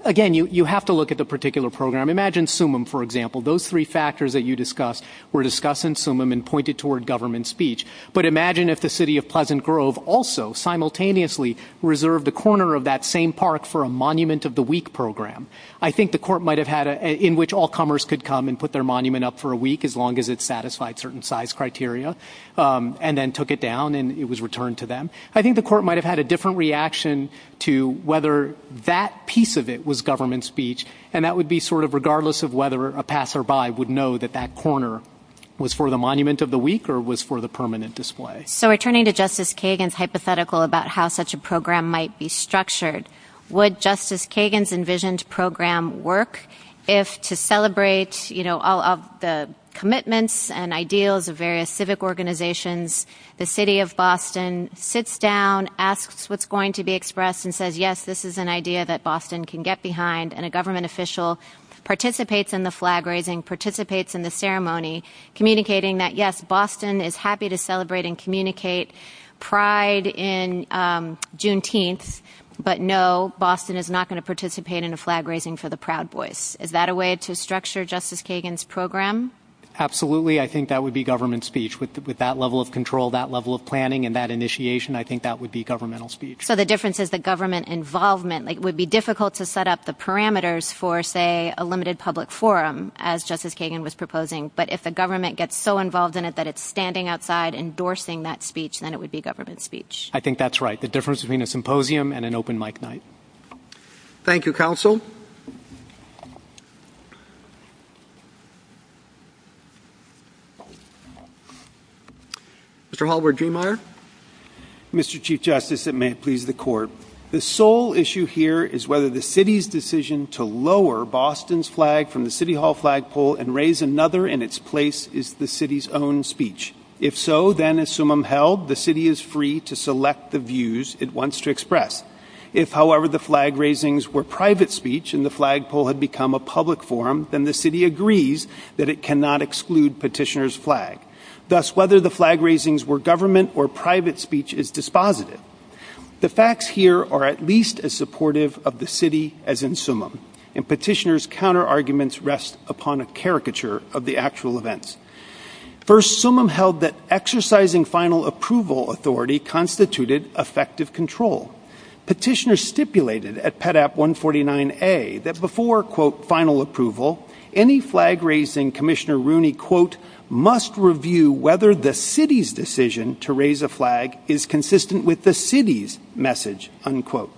again, you have to look at the particular program. Imagine Summum, for example, those three factors that you discussed were discussed in Summum and pointed toward government speech. But imagine if the city of Pleasant Grove also simultaneously reserved the corner of that same park for a Monument of the Week program. I think the court might have had in which all comers could come and put their monument up for a week as long as it satisfied certain size criteria and then took it down and it was returned to them. I think the court might have had a different reaction to whether that piece of it was government speech. And that would be sort of regardless of whether a passerby would know that that corner was for the Monument of the Week or was for the permanent display. So returning to Justice Kagan's hypothetical about how such a program might be structured, would Justice Kagan's envisioned program work if to celebrate, you know, all of the commitments and ideals of various civic organizations? The city of Boston sits down, asks what's going to be expressed and says, yes, this is an idea that Boston can get behind. And a government official participates in the flag raising, participates in the ceremony, communicating that, yes, Boston is happy to celebrate and communicate pride in Juneteenth. But no, Boston is not going to participate in a flag raising for the Proud Boys. Is that a way to structure Justice Kagan's program? Absolutely. I think that would be government speech with that level of control, that level of planning and that initiation. I think that would be governmental speech. So the difference is the government involvement. It would be difficult to set up the parameters for, say, a limited public forum, as Justice Kagan was proposing. But if the government gets so involved in it that it's standing outside endorsing that speech, then it would be government speech. I think that's right. The difference between a symposium and an open mic night. Thank you, counsel. Mr. Hallward-Driemeier. Mr. Chief Justice, it may please the court. The sole issue here is whether the city's decision to lower Boston's flag from the City Hall flagpole and raise another in its place is the city's own speech. If so, then, as summum held, the city is free to select the views it wants to express. If, however, the flag raisings were private speech and the flagpole had become a public forum, then the city agrees that it cannot exclude petitioners' flag. Thus, whether the flag raisings were government or private speech is dispositive. The facts here are at least as supportive of the city as in summum, and petitioners' counterarguments rest upon a caricature of the actual events. First, summum held that exercising final approval authority constituted effective control. Petitioners stipulated at Pet App 149A that before, quote, final approval, any flag raising Commissioner Rooney, quote, must review whether the city's decision to raise a flag is consistent with the city's message, unquote.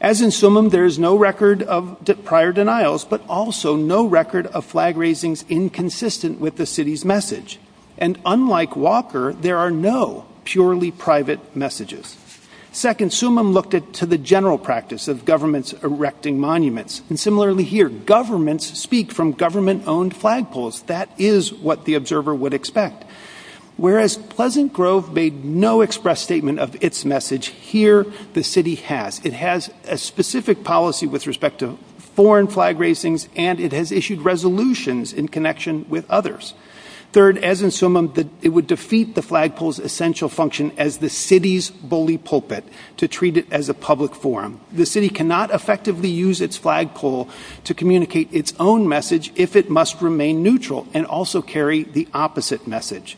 As in summum, there is no record of prior denials, but also no record of flag raisings inconsistent with the city's message. And unlike Walker, there are no purely private messages. Second, summum looked at to the general practice of governments erecting monuments. And similarly here, governments speak from government-owned flagpoles. That is what the observer would expect. Whereas Pleasant Grove made no express statement of its message, here the city has. It has a specific policy with respect to foreign flag raisings, and it has issued resolutions in connection with others. Third, as in summum, it would defeat the flagpole's essential function as the city's bully pulpit to treat it as a public forum. The city cannot effectively use its flagpole to communicate its own message if it must remain neutral and also carry the opposite message.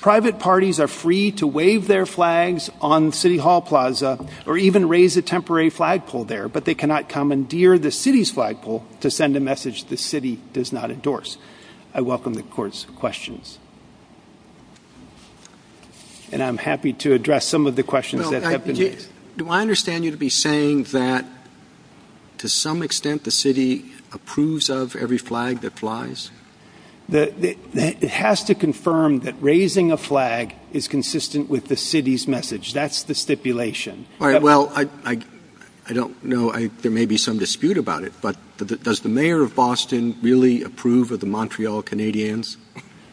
Private parties are free to wave their flags on City Hall Plaza or even raise a temporary flagpole there, but they cannot commandeer the city's flagpole to send a message the city does not endorse. I welcome the court's questions. And I'm happy to address some of the questions that have been raised. Do I understand you to be saying that to some extent the city approves of every flag that flies? It has to confirm that raising a flag is consistent with the city's message. That's the stipulation. All right. Well, I don't know. There may be some dispute about it, but does the mayor of Boston really approve of the Montreal Canadiens?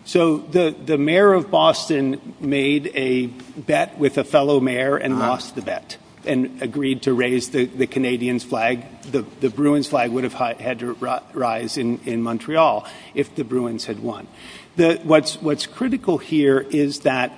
So the mayor of Boston made a bet with a fellow mayor and lost the bet and agreed to raise the Canadian flag. The Bruins flag would have had to rise in Montreal if the Bruins had won. What's critical here is that,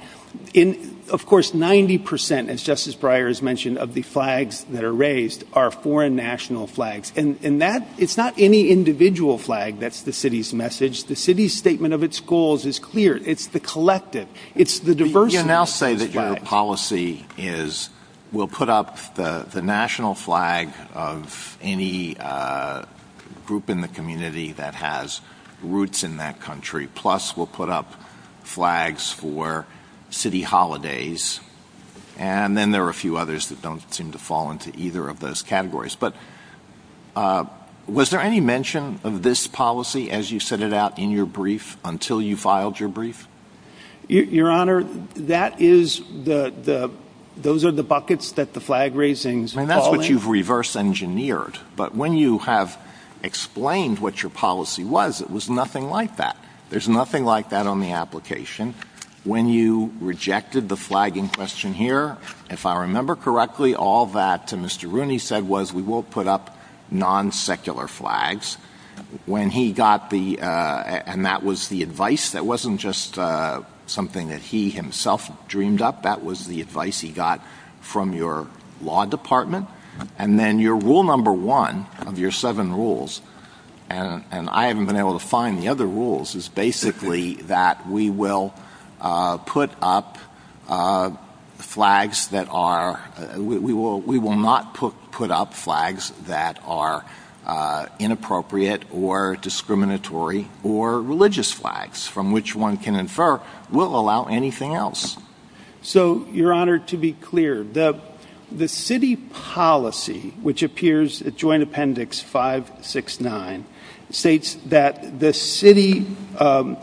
of course, 90 percent, as Justice Breyer has mentioned, of the flags that are raised are foreign national flags. And it's not any individual flag that's the city's message. The city's statement of its goals is clear. It's the collective. It's the diversity. You now say that your policy is we'll put up the national flag of any group in the community that has roots in that country. Plus, we'll put up flags for city holidays. And then there are a few others that don't seem to fall into either of those categories. But was there any mention of this policy as you set it out in your brief until you filed your brief? Your Honor, that is the the those are the buckets that the flag raisings and that's what you've reverse engineered. But when you have explained what your policy was, it was nothing like that. There's nothing like that on the application. When you rejected the flagging question here, if I remember correctly, all that Mr. Rooney said was we will put up non-secular flags when he got the. And that was the advice that wasn't just something that he himself dreamed up. That was the advice he got from your law department. And then your rule number one of your seven rules. And I haven't been able to find the other rules is basically that we will put up flags that are we will we will not put put up flags that are inappropriate or discriminatory or religious flags from which one can infer will allow anything else. So, Your Honor, to be clear, the the city policy, which appears at Joint Appendix five, six, nine states that the city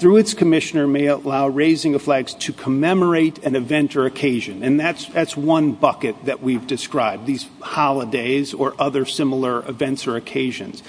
through its commissioner may allow raising the flags to commemorate an event or occasion. And that's that's one bucket that we've described these holidays or other similar events or occasions.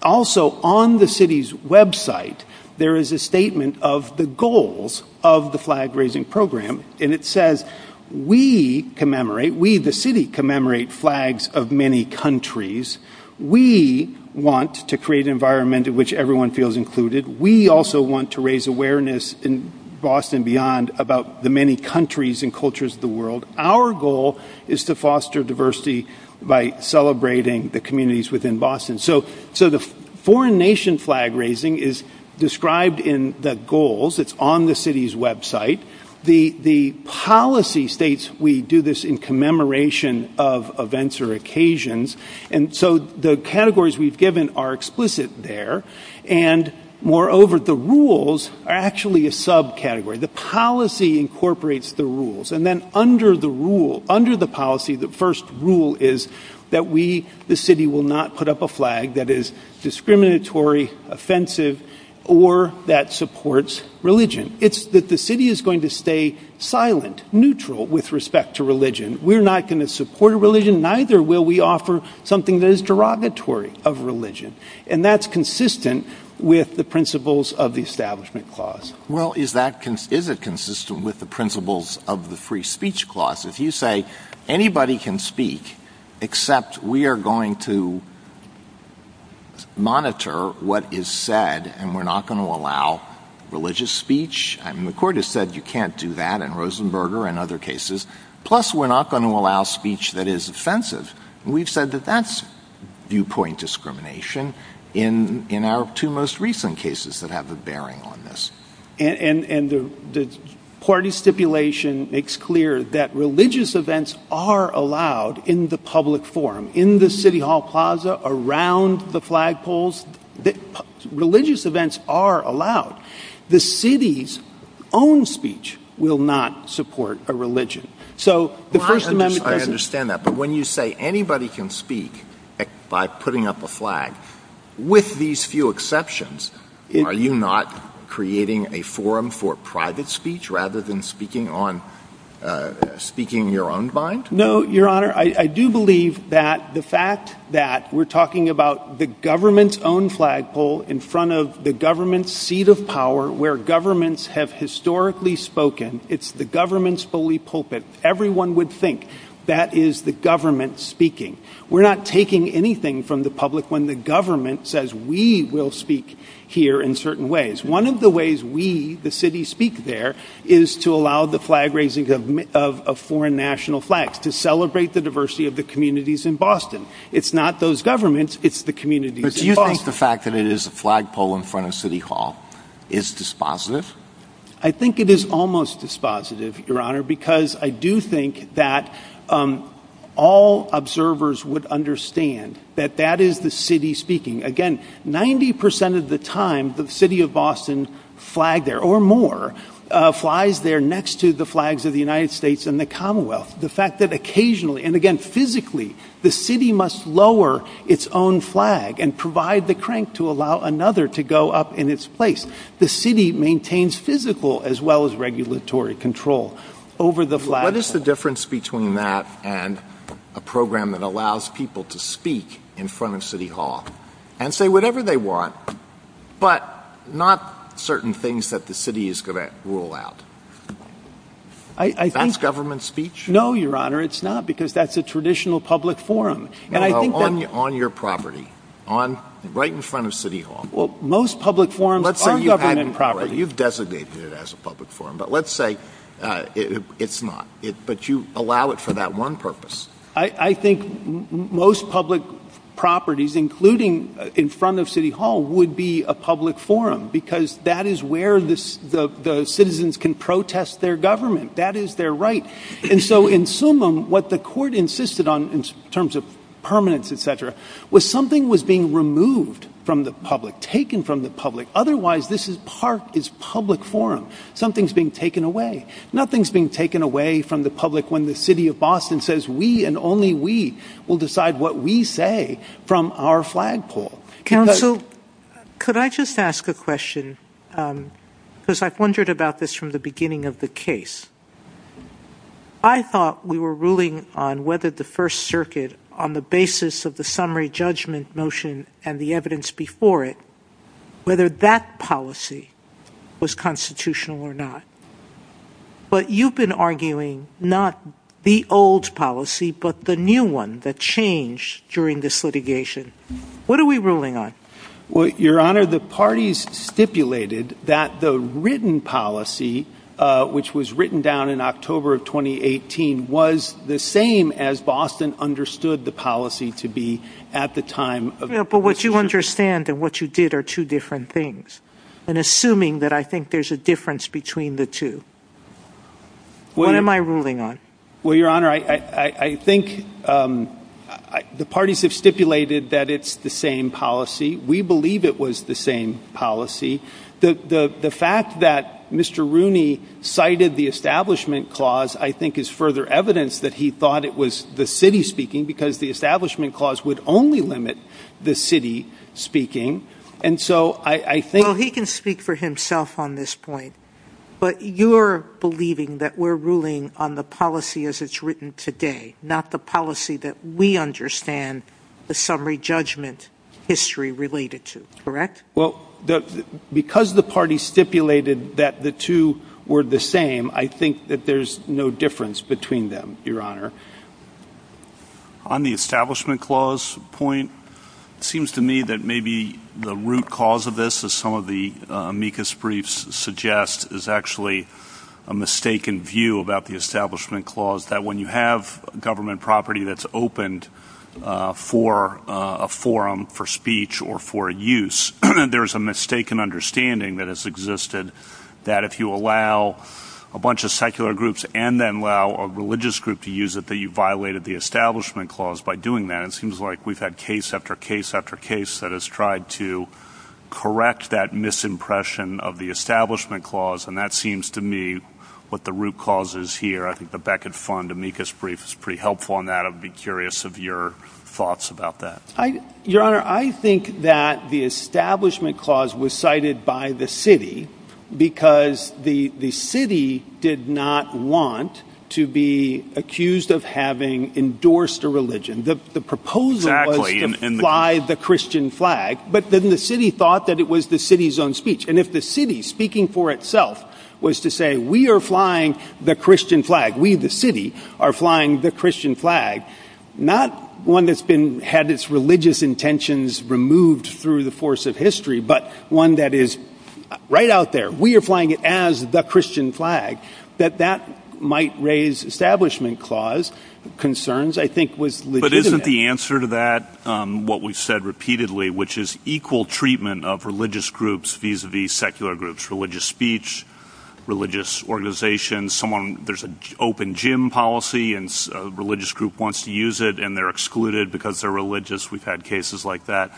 Also, on the city's Web site, there is a statement of the goals of the flag raising program. And it says we commemorate we the city commemorate flags of many countries. We want to create an environment in which everyone feels included. We also want to raise awareness in Boston beyond about the many countries and cultures of the world. Our goal is to foster diversity by celebrating the communities within Boston. So so the foreign nation flag raising is described in the goals. It's on the city's Web site. The the policy states we do this in commemoration of events or occasions. And so the categories we've given are explicit there. And moreover, the rules are actually a subcategory. The policy incorporates the rules. And then under the rule, under the policy, the first rule is that we the city will not put up a flag that is discriminatory, offensive or that supports religion. It's that the city is going to stay silent, neutral with respect to religion. We're not going to support religion. Neither will we offer something that is derogatory of religion. And that's consistent with the principles of the establishment clause. Well, is that is it consistent with the principles of the free speech clause? If you say anybody can speak except we are going to. Monitor what is said and we're not going to allow religious speech and the court has said you can't do that and Rosenberger and other cases, plus we're not going to allow speech that is offensive. We've said that that's viewpoint discrimination in our two most recent cases that have a bearing on this. And the party stipulation makes clear that religious events are allowed in the public forum, in the city hall plaza, around the flagpoles that religious events are allowed. The city's own speech will not support a religion. So the first amendment, I understand that. But when you say anybody can speak by putting up a flag with these few exceptions, are you not creating a forum for private speech rather than speaking on speaking your own mind? No, Your Honor. I do believe that the fact that we're talking about the government's own flagpole in front of the government's seat of power, where governments have historically spoken. It's the government's fully pulpit. Everyone would think that is the government speaking. We're not taking anything from the public when the government says we will speak here in certain ways. One of the ways we, the city, speak there is to allow the flag raising of a foreign national flag to celebrate the diversity of the communities in Boston. It's not those governments. It's the community. Do you think the fact that it is a flagpole in front of city hall is dispositive? I think it is almost dispositive, Your Honor, because I do think that all observers would understand that that is the city speaking. Again, 90 percent of the time, the city of Boston flag there or more flies there next to the flags of the United States and the Commonwealth. The fact that occasionally and again, physically, the city must lower its own flag and provide the crank to allow another to go up in its place. The city maintains physical as well as regulatory control over the flag. What is the difference between that and a program that allows people to speak in front of city hall and say whatever they want, but not certain things that the city is going to rule out? I think that's government speech. No, Your Honor, it's not, because that's a traditional public forum. And I think that on your property, on right in front of city hall. Well, most public forums in property, you've designated it as a public forum, but let's say it's not it, but you allow it for that one purpose. I think most public properties, including in front of city hall, would be a public forum because that is where the citizens can protest their government. That is their right. And so in summum, what the court insisted on in terms of permanence, et cetera, was something was being removed from the public, taken from the public. Otherwise, this is part is public forum. Something's being taken away. Nothing's being taken away from the public when the city of Boston says we and only we will decide what we say from our flagpole. Counsel, could I just ask a question? Because I've wondered about this from the beginning of the case. I thought we were ruling on whether the First Circuit, on the basis of the summary judgment motion and the evidence before it, whether that policy was constitutional or not. But you've been arguing not the old policy, but the new one that changed during this litigation. What are we ruling on? Well, your honor, the parties stipulated that the written policy, which was written down in October of twenty eighteen, was the same as Boston understood the policy to be at the time. But what you understand and what you did are two different things. And assuming that I think there's a difference between the two. What am I ruling on? Well, your honor, I think the parties have stipulated that it's the same policy. We believe it was the same policy. The fact that Mr. Rooney cited the establishment clause, I think, is further evidence that he thought it was the city speaking because the establishment clause would only limit the city speaking. And so I think he can speak for himself on this point. But you're believing that we're ruling on the policy as it's written today, not the policy that we understand the summary judgment history related to. Correct. Well, because the party stipulated that the two were the same, I think that there's no difference between them, your honor. On the establishment clause point, it seems to me that maybe the root cause of this is some of the amicus briefs suggest is actually a mistaken view about the establishment clause, that when you have government property that's opened for a forum for speech or for use, there is a mistaken understanding that has existed that if you allow a bunch of secular groups and then allow a religious group to use it, that you violated the establishment clause. By doing that, it seems like we've had case after case after case that has tried to correct that misimpression of the establishment clause. And that seems to me what the root cause is here. I think the Beckett fund amicus brief is pretty helpful on that. I'd be curious of your thoughts about that. Your honor, I think that the establishment clause was cited by the city because the city did not want to be accused of having endorsed a religion. The proposal was to fly the Christian flag, but then the city thought that it was the city's own speech. And if the city, speaking for itself, was to say, we are flying the Christian flag, we, the city, are flying the Christian flag, not one that's had its religious intentions removed through the force of history, but one that is right out there. We are flying it as the Christian flag, that that might raise establishment clause concerns, I think, was legitimate. Isn't the answer to that what we've said repeatedly, which is equal treatment of religious groups vis-a-vis secular groups, religious speech, religious organizations, there's an open gym policy and a religious group wants to use it and they're excluded because they're religious. We've had cases like that.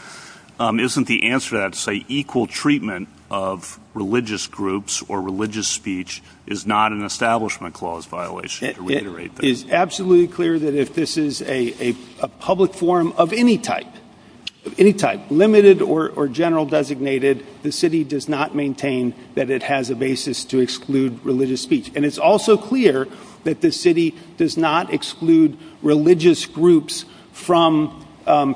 Isn't the answer to that to say equal treatment of religious groups or religious speech is not an establishment clause violation to reiterate that? It is absolutely clear that if this is a public forum of any type, any type, limited or general designated, the city does not maintain that it has a basis to exclude religious speech. And it's also clear that the city does not exclude religious groups from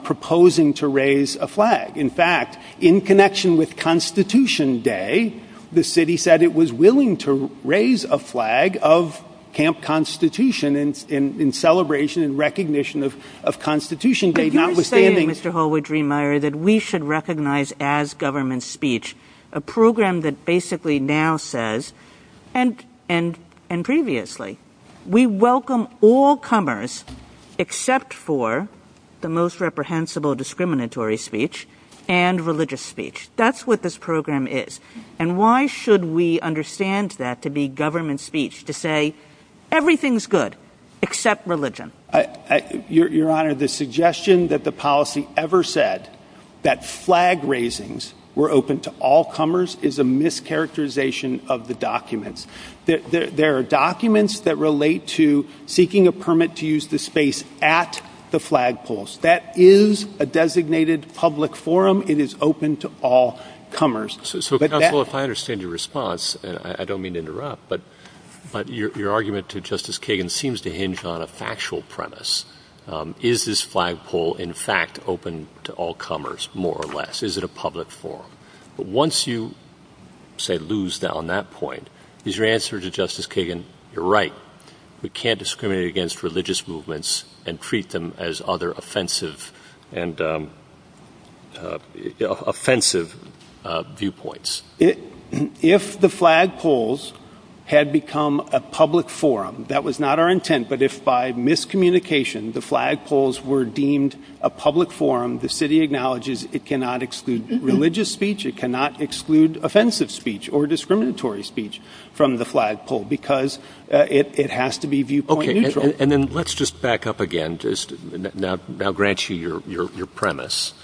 proposing to raise a flag. In fact, in connection with Constitution Day, the city said it was willing to raise a flag of Camp Constitution in celebration and recognition of Constitution Day. You're saying, Mr. Holwood-Driemeier, that we should recognize as government speech a program that basically now says, and previously, we welcome all comers except for the most reprehensible discriminatory speech and religious speech. That's what this program is. And why should we understand that to be government speech to say everything's good except religion? Your Honor, the suggestion that the policy ever said that flag raisings were open to all comers is a mischaracterization of the documents. There are documents that relate to seeking a permit to use the space at the flagpoles. That is a designated public forum. It is open to all comers. Well, if I understand your response, I don't mean to interrupt, but your argument to Justice Kagan seems to hinge on a factual premise. Is this flagpole, in fact, open to all comers, more or less? Is it a public forum? Once you, say, lose down that point, is your answer to Justice Kagan, you're right. We can't discriminate against religious movements and treat them as other offensive viewpoints. If the flagpoles had become a public forum, that was not our intent, but if by miscommunication the flagpoles were deemed a public forum, the city acknowledges it cannot exclude religious speech, it cannot exclude offensive speech or discriminatory speech from the flagpole because it has to be viewpoint neutral. Okay, and then let's just back up again, just now grant you your premise.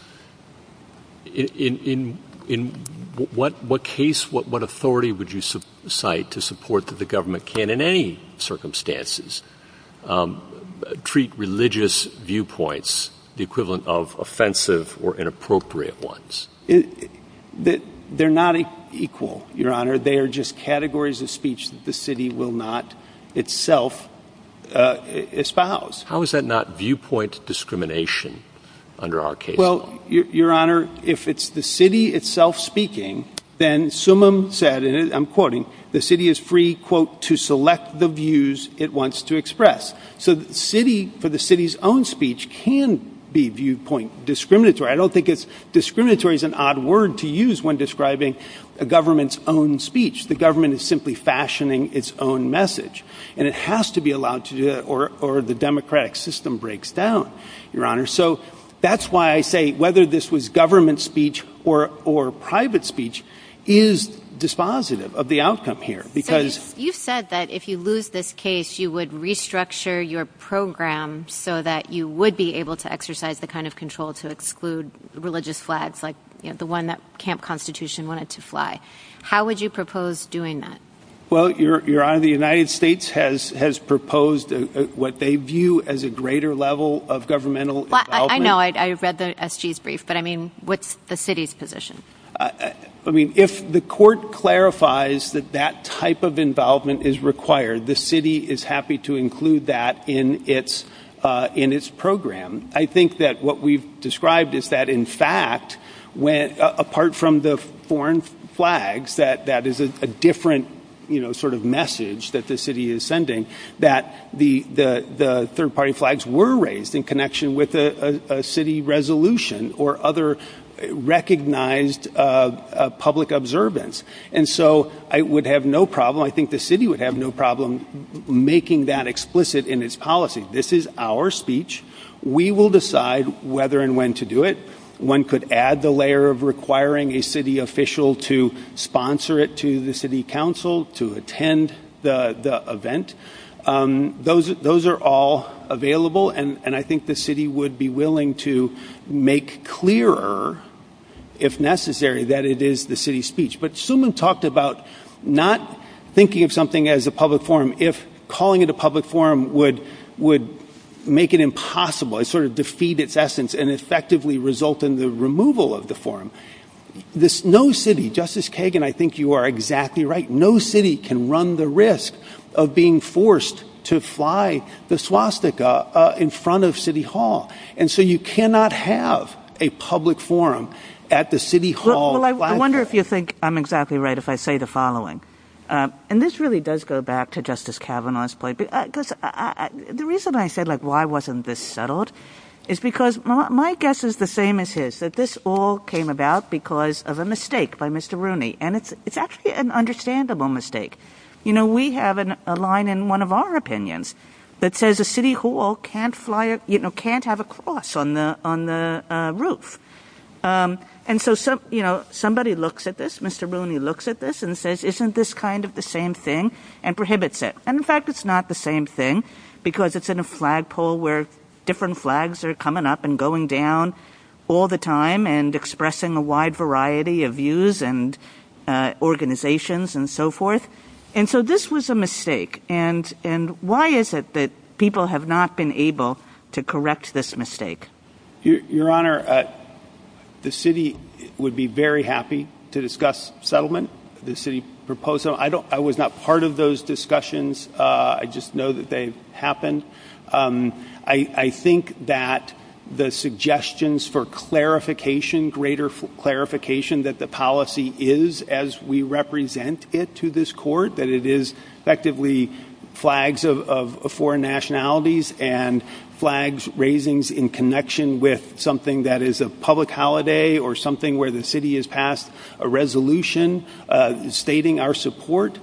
In what case, what authority would you cite to support that the government can, in any circumstances, treat religious viewpoints the equivalent of offensive or inappropriate ones? They're not equal, Your Honor. They are just categories of speech that the city will not itself espouse. How is that not viewpoint discrimination under our case? Well, Your Honor, if it's the city itself speaking, then Summum said, and I'm quoting, the city is free, quote, to select the views it wants to express. So the city, for the city's own speech, can be viewpoint discriminatory. I don't think discriminatory is an odd word to use when describing a government's own speech. The government is simply fashioning its own message, and it has to be allowed to do that, or the democratic system breaks down, Your Honor. So that's why I say whether this was government speech or private speech is dispositive of the outcome here. You said that if you lose this case, you would restructure your program so that you would be able to exercise the kind of control to exclude religious flags, like the one that Camp Constitution wanted to fly. How would you propose doing that? Well, Your Honor, the United States has proposed what they view as a greater level of governmental involvement. I know. I read the SG's brief. But, I mean, what's the city's position? I mean, if the court clarifies that that type of involvement is required, the city is happy to include that in its program. I think that what we've described is that, in fact, apart from the foreign flags, that is a different sort of message that the city is sending, that the third-party flags were raised in connection with a city resolution or other recognized public observance. And so I would have no problem, I think the city would have no problem making that explicit in its policy. This is our speech. We will decide whether and when to do it. One could add the layer of requiring a city official to sponsor it to the city council to attend the event. Those are all available, and I think the city would be willing to make clearer, if necessary, that it is the city's speech. But Suman talked about not thinking of something as a public forum, if calling it a public forum would make it impossible, sort of defeat its essence, and effectively result in the removal of the forum. No city, Justice Kagan, I think you are exactly right, no city can run the risk of being forced to fly the swastika in front of City Hall. And so you cannot have a public forum at the City Hall. I wonder if you think I'm exactly right if I say the following. And this really does go back to Justice Kavanaugh's point. The reason I said, like, why wasn't this settled is because my guess is the same as his, is that this all came about because of a mistake by Mr. Rooney, and it's actually an understandable mistake. You know, we have a line in one of our opinions that says a City Hall can't have a cross on the roof. And so somebody looks at this, Mr. Rooney looks at this and says, isn't this kind of the same thing, and prohibits it. And in fact, it's not the same thing, because it's in a flagpole where different flags are coming up and going down all the time and expressing a wide variety of views and organizations and so forth. And so this was a mistake. And why is it that people have not been able to correct this mistake? Your Honor, the city would be very happy to discuss settlement, the city proposal. You know, I was not part of those discussions. I just know that they happened. I think that the suggestions for clarification, greater clarification that the policy is as we represent it to this court, that it is effectively flags of foreign nationalities and flags raising in connection with something that is a public holiday or something where the city has passed a resolution stating our support,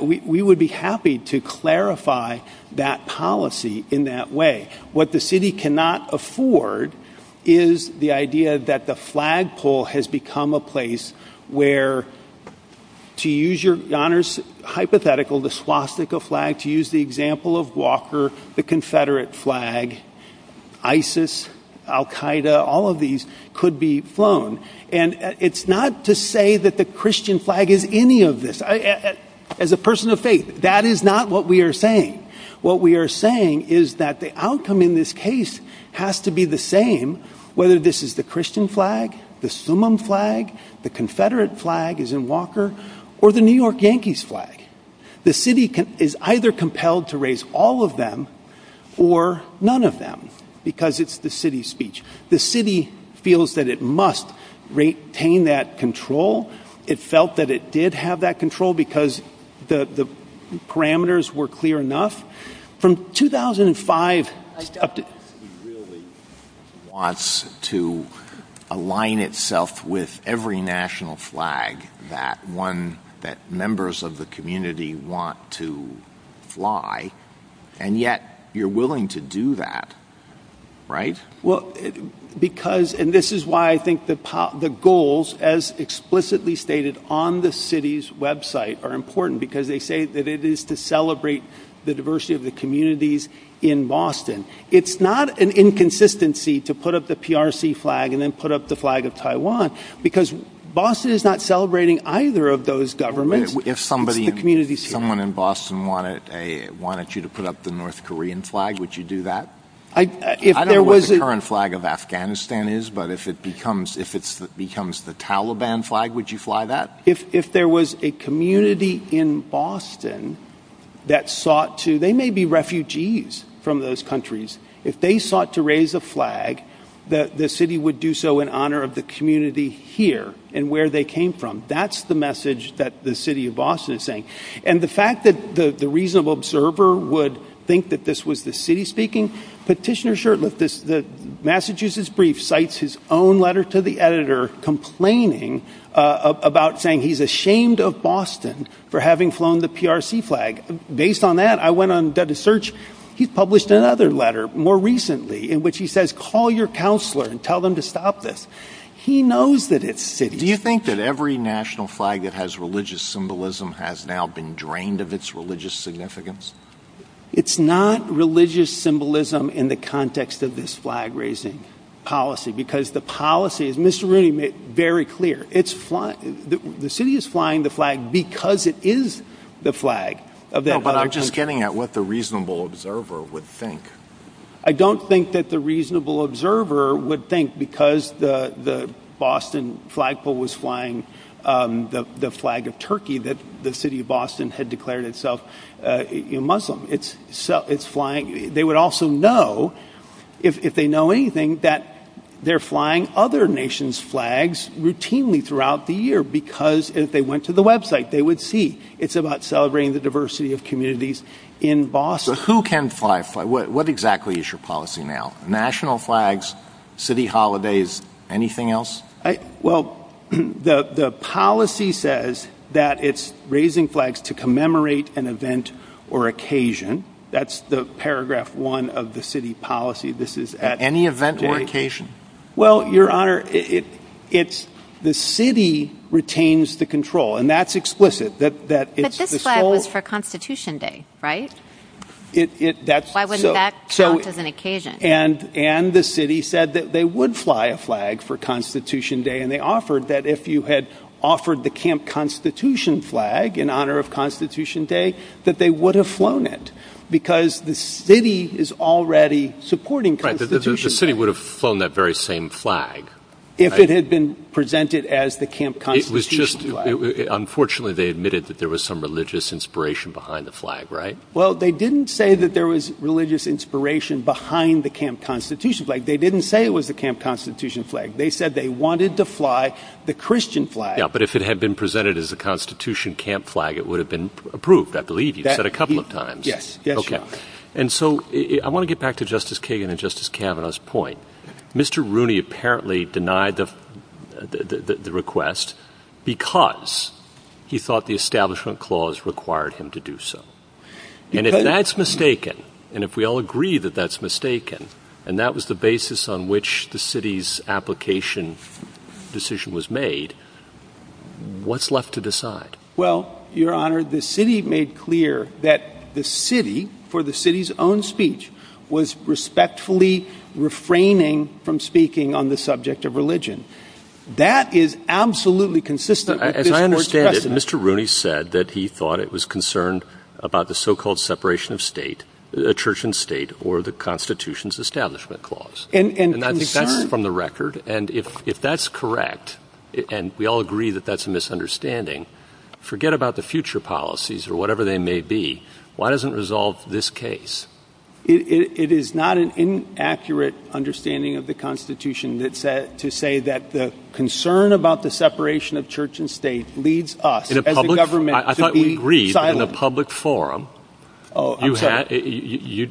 we would be happy to clarify that policy in that way. What the city cannot afford is the idea that the flagpole has become a place where, to use Your Honor's hypothetical, the swastika flag, to use the example of Walker, the Confederate flag, ISIS, Al Qaeda, all of these could be flown. And it's not to say that the Christian flag is any of this. As a person of faith, that is not what we are saying. What we are saying is that the outcome in this case has to be the same whether this is the Christian flag, the Summum flag, the Confederate flag as in Walker, or the New York Yankees flag. The city is either compelled to raise all of them or none of them because it's the city's speech. The city feels that it must retain that control. It felt that it did have that control because the parameters were clear enough. From 2005 up to... It really wants to align itself with every national flag that members of the community want to fly, and yet you're willing to do that, right? Well, because, and this is why I think the goals as explicitly stated on the city's website are important because they say that it is to celebrate the diversity of the communities in Boston. It's not an inconsistency to put up the PRC flag and then put up the flag of Taiwan because Boston is not celebrating either of those governments. If someone in Boston wanted you to put up the North Korean flag, would you do that? I don't know what the current flag of Afghanistan is, but if it becomes the Taliban flag, would you fly that? If there was a community in Boston that sought to... They may be refugees from those countries. If they sought to raise a flag, the city would do so in honor of the community here and where they came from. That's the message that the city of Boston is saying. And the fact that the reasonable observer would think that this was the city speaking, Petitioner Shurtleff, the Massachusetts Brief, cites his own letter to the editor complaining about saying he's ashamed of Boston for having flown the PRC flag. Based on that, I went on the search. He published another letter more recently in which he says, call your counselor and tell them to stop this. He knows that it's the city. Do you think that every national flag that has religious symbolism has now been drained of its religious significance? It's not religious symbolism in the context of this flag raising policy, because the policy, and this is really made very clear, the city is flying the flag because it is the flag of Afghanistan. No, but I'm just getting at what the reasonable observer would think. I don't think that the reasonable observer would think because the Boston flagpole was flying the flag of Turkey that the city of Boston had declared itself Muslim. They would also know, if they know anything, that they're flying other nations' flags routinely throughout the year because if they went to the website, they would see. It's about celebrating the diversity of communities in Boston. Who can fly a flag? What exactly is your policy now? National flags, city holidays, anything else? Well, the policy says that it's raising flags to commemorate an event or occasion. That's the paragraph one of the city policy. Any event or occasion? Well, Your Honor, the city retains the control, and that's explicit. But this flag was for Constitution Day, right? Why wouldn't that count as an occasion? And the city said that they would fly a flag for Constitution Day, and they offered that if you had offered the Camp Constitution flag in honor of Constitution Day, that they would have flown it because the city is already supporting Constitution Day. The city would have flown that very same flag. If it had been presented as the Camp Constitution Day. Unfortunately, they admitted that there was some religious inspiration behind the flag, right? Well, they didn't say that there was religious inspiration behind the Camp Constitution flag. They didn't say it was the Camp Constitution flag. They said they wanted to fly the Christian flag. Yeah, but if it had been presented as a Constitution camp flag, it would have been approved. I believe you've said a couple of times. Yes. Okay. And so I want to get back to Justice Kagan and Justice Kavanaugh's point. Mr. Rooney apparently denied the request because he thought the Establishment Clause required him to do so. And if that's mistaken, and if we all agree that that's mistaken, and that was the basis on which the city's application decision was made, what's left to decide? Well, Your Honor, the city made clear that the city, for the city's own speech, was respectfully refraining from speaking on the subject of religion. That is absolutely consistent. As I understand it, Mr. Rooney said that he thought it was concerned about the so-called separation of state, a church and state, or the Constitution's Establishment Clause. And that's from the record. And if that's correct, and we all agree that that's a misunderstanding, forget about the future policies or whatever they may be. Why doesn't it resolve this case? It is not an inaccurate understanding of the Constitution to say that the concern about the separation of church and state leaves us, as the government, to be silent. Oh, I'm sorry.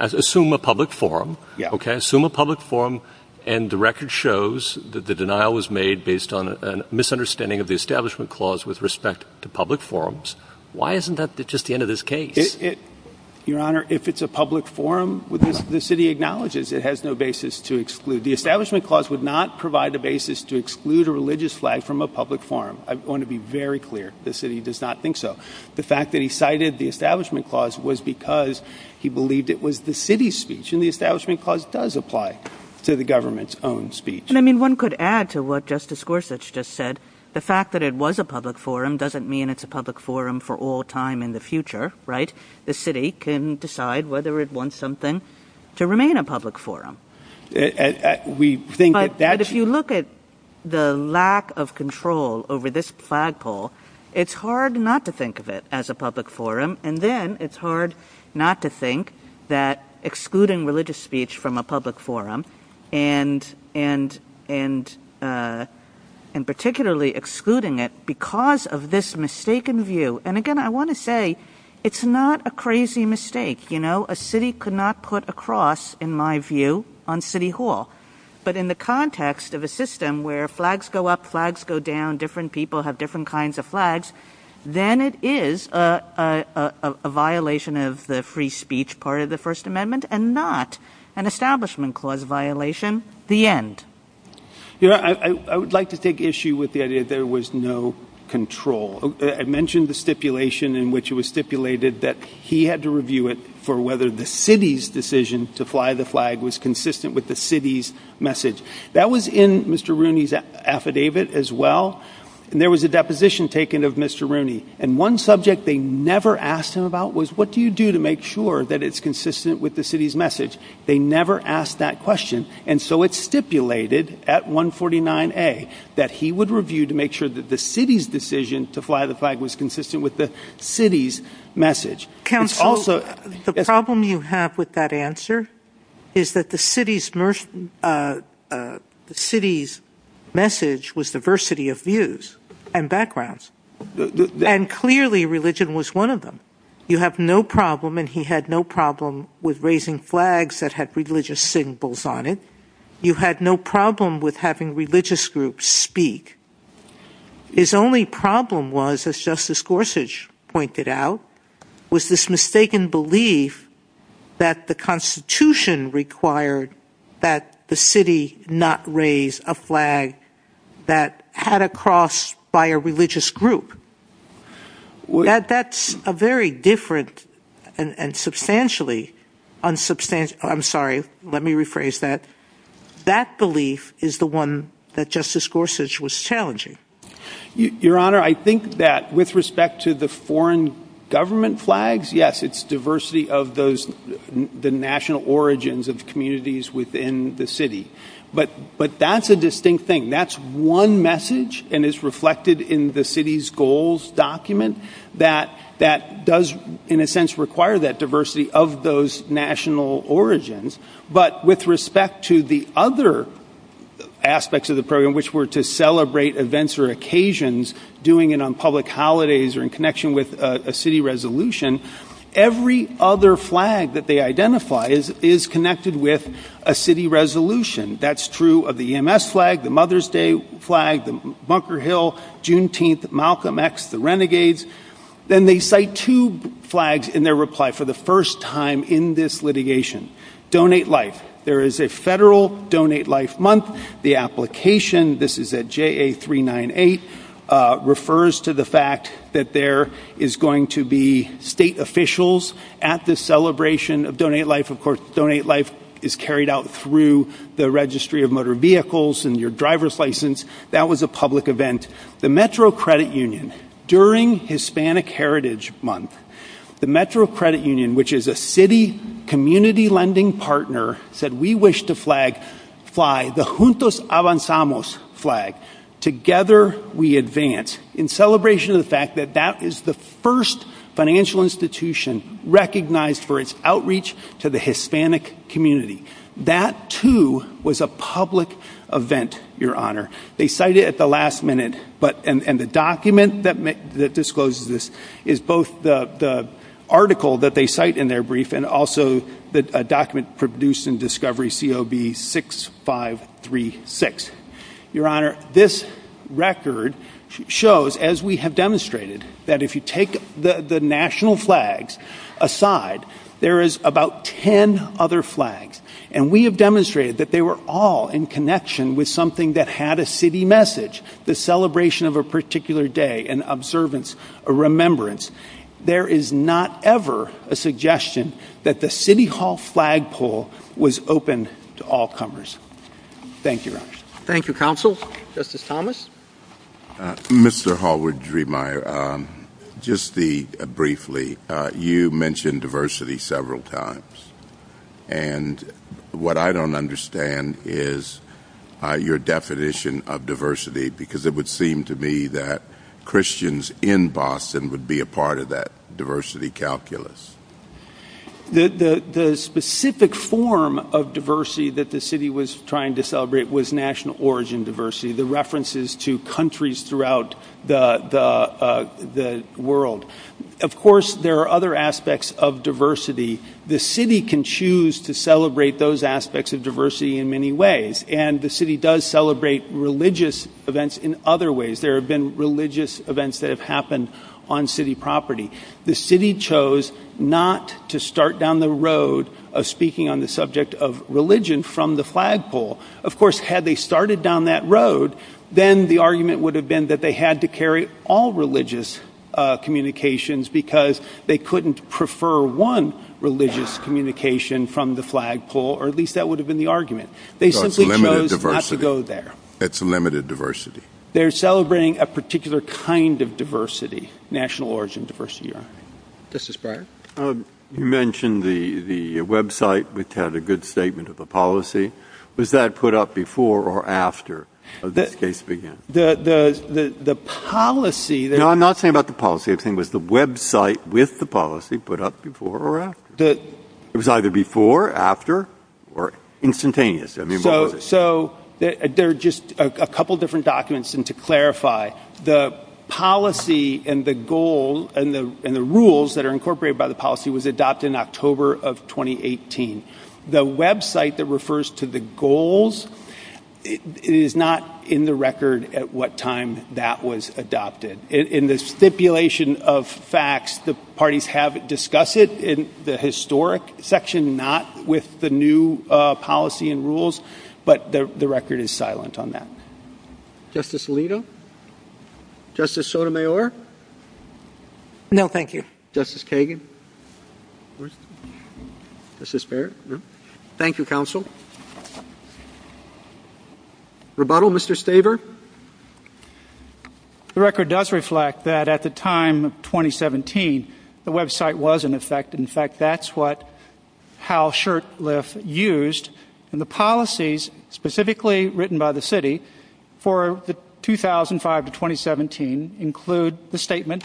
Assume a public forum, okay? Assume a public forum, and the record shows that the denial was made based on a misunderstanding of the Establishment Clause with respect to public forums. Why isn't that just the end of this case? Your Honor, if it's a public forum, the city acknowledges it has no basis to exclude. The Establishment Clause would not provide the basis to exclude a religious flag from a public forum. I want to be very clear. The city does not think so. The fact that he cited the Establishment Clause was because he believed it was the city's speech. And the Establishment Clause does apply to the government's own speech. I mean, one could add to what Justice Gorsuch just said. The fact that it was a public forum doesn't mean it's a public forum for all time in the future, right? The city can decide whether it wants something to remain a public forum. But if you look at the lack of control over this flagpole, it's hard not to think of it as a public forum. And then it's hard not to think that excluding religious speech from a public forum, and particularly excluding it because of this mistaken view. And, again, I want to say it's not a crazy mistake. You know, a city could not put a cross, in my view, on City Hall. But in the context of a system where flags go up, flags go down, different people have different kinds of flags, then it is a violation of the free speech part of the First Amendment and not an Establishment Clause violation. The end. I would like to take issue with the idea that there was no control. I mentioned the stipulation in which it was stipulated that he had to review it for whether the city's decision to fly the flag was consistent with the city's message. That was in Mr. Rooney's affidavit as well. And there was a deposition taken of Mr. Rooney. And one subject they never asked him about was, what do you do to make sure that it's consistent with the city's message? They never asked that question. And so it's stipulated at 149A that he would review to make sure that the city's decision to fly the flag was consistent with the city's message. Counsel, the problem you have with that answer is that the city's message was diversity of views and backgrounds. And, clearly, religion was one of them. You have no problem, and he had no problem, with raising flags that had religious symbols on it. You had no problem with having religious groups speak. His only problem was, as Justice Gorsuch pointed out, was this mistaken belief that the Constitution required that the city not raise a flag that had a cross by a religious group. That's a very different and substantially, I'm sorry, let me rephrase that, that belief is the one that Justice Gorsuch was challenging. Your Honor, I think that with respect to the foreign government flags, yes, it's diversity of the national origins of communities within the city. But that's a distinct thing. That's one message and it's reflected in the city's goals document that does, in a sense, require that diversity of those national origins. But with respect to the other aspects of the program, which were to celebrate events or occasions, doing it on public holidays or in connection with a city resolution, every other flag that they identify is connected with a city resolution. That's true of the EMS flag, the Mother's Day flag, the Bunker Hill, Juneteenth, Malcolm X, the renegades. Then they cite two flags in their reply for the first time in this litigation. Donate Life. There is a federal Donate Life month. The application, this is at JA398, refers to the fact that there is going to be state officials at the celebration of Donate Life. Of course, Donate Life is carried out through the Registry of Motor Vehicles and your driver's license. That was a public event. The Metro Credit Union, during Hispanic Heritage Month, the Metro Credit Union, which is a city community lending partner, said, we wish to fly the Juntos Avanzamos flag, together we advance, in celebration of the fact that that is the first financial institution recognized for its outreach to the Hispanic community. That, too, was a public event, Your Honor. They cite it at the last minute, and the document that discloses this is both the article that they cite in their brief and also a document produced in Discovery COB 6536. Your Honor, this record shows, as we have demonstrated, that if you take the national flags aside, there is about 10 other flags. And we have demonstrated that they were all in connection with something that had a city message, the celebration of a particular day, an observance, a remembrance. There is not ever a suggestion that the City Hall flagpole was open to all comers. Thank you, Your Honor. Thank you, Counsel. Justice Thomas? Mr. Hallward-Dremeier, just briefly, you mentioned diversity several times. And what I don't understand is your definition of diversity, because it would seem to me that Christians in Boston would be a part of that diversity calculus. The specific form of diversity that the city was trying to celebrate was national origin diversity, the references to countries throughout the world. Of course, there are other aspects of diversity. The city can choose to celebrate those aspects of diversity in many ways, and the city does celebrate religious events in other ways. There have been religious events that have happened on city property. The city chose not to start down the road of speaking on the subject of religion from the flagpole. Of course, had they started down that road, then the argument would have been that they had to carry all religious communications because they couldn't prefer one religious communication from the flagpole, or at least that would have been the argument. So it's limited diversity. They simply chose not to go there. It's limited diversity. They're celebrating a particular kind of diversity, national origin diversity, Your Honor. Justice Breyer? You mentioned the website, which had a good statement of the policy. Was that put up before or after this case began? The policy that was put up? No, I'm not saying about the policy. I'm saying was the website with the policy put up before or after? It was either before, after, or instantaneous. So there are just a couple different documents, and to clarify, the policy and the goals and the rules that are incorporated by the policy was adopted in October of 2018. The website that refers to the goals is not in the record at what time that was adopted. In the stipulation of facts, the parties have discussed it in the historic section, not with the new policy and rules, but the record is silent on that. Justice Alito? Justice Sotomayor? No, thank you. Justice Kagan? Justice Barrett? No. Thank you, counsel. Rebuttal, Mr. Staber? The record does reflect that at the time of 2017, the website was in effect. In fact, that's what Hal Shurtleff used, and the policies specifically written by the city for 2005 to 2017 include the statement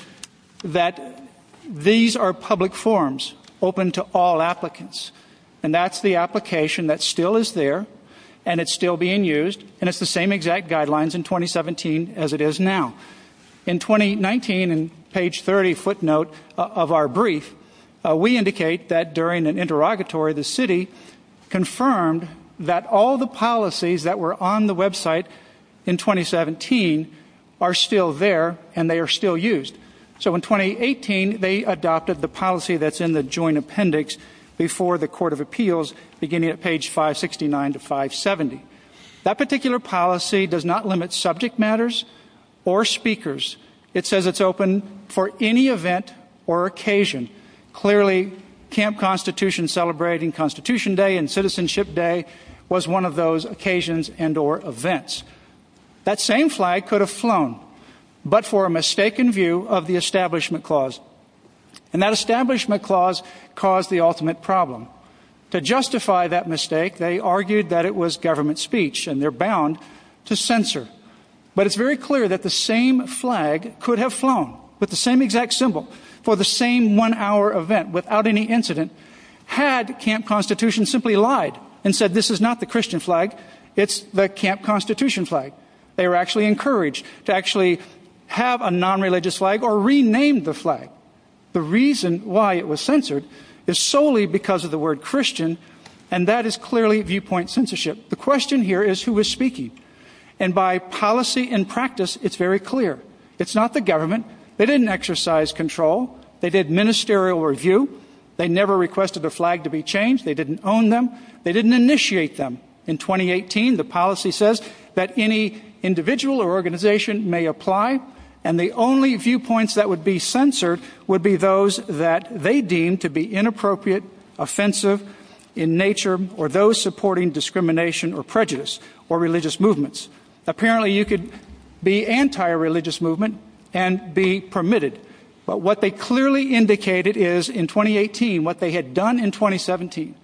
that these are public forms open to all applicants, and that's the application that still is there, and it's still being used, and it's the same exact guidelines in 2017 as it is now. In 2019, in page 30 footnote of our brief, we indicate that during an interrogatory, the city confirmed that all the policies that were on the website in 2017 are still there, and they are still used. So in 2018, they adopted the policy that's in the joint appendix before the court of appeals, beginning at page 569 to 570. That particular policy does not limit subject matters or speakers. It says it's open for any event or occasion. Clearly, Camp Constitution celebrating Constitution Day and Citizenship Day was one of those occasions and or events. That same flag could have flown, but for a mistaken view of the establishment clause, and that establishment clause caused the ultimate problem. To justify that mistake, they argued that it was government speech, and they're bound to censor. But it's very clear that the same flag could have flown with the same exact symbol for the same one-hour event without any incident had Camp Constitution simply lied and said this is not the Christian flag, it's the Camp Constitution flag. They were actually encouraged to actually have a nonreligious flag or rename the flag. The reason why it was censored is solely because of the word Christian, and that is clearly viewpoint censorship. The question here is who was speaking. And by policy and practice, it's very clear. It's not the government. They didn't exercise control. They did ministerial review. They never requested the flag to be changed. They didn't own them. They didn't initiate them. In 2018, the policy says that any individual or organization may apply, and the only viewpoints that would be censored would be those that they deemed to be inappropriate, offensive in nature, or those supporting discrimination or prejudice or religious movements. Apparently, you could be anti-religious movement and be permitted. But what they clearly indicated is in 2018 what they had done in 2017,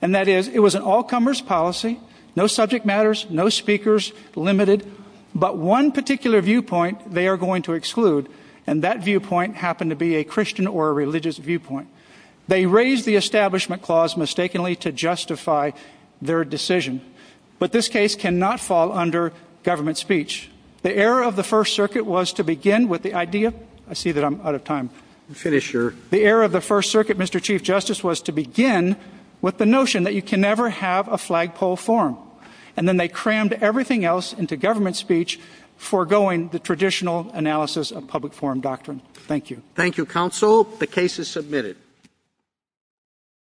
and that is it was an all-comers policy, no subject matters, no speakers, limited, but one particular viewpoint they are going to exclude, and that viewpoint happened to be a Christian or a religious viewpoint. They raised the establishment clause mistakenly to justify their decision. But this case cannot fall under government speech. The error of the First Circuit was to begin with the idea. I see that I'm out of time. Finish your. The error of the First Circuit, Mr. Chief Justice, was to begin with the notion that you can never have a flagpole forum. And then they crammed everything else into government speech, foregoing the traditional analysis of public forum doctrine. Thank you. Thank you, counsel. The case is submitted.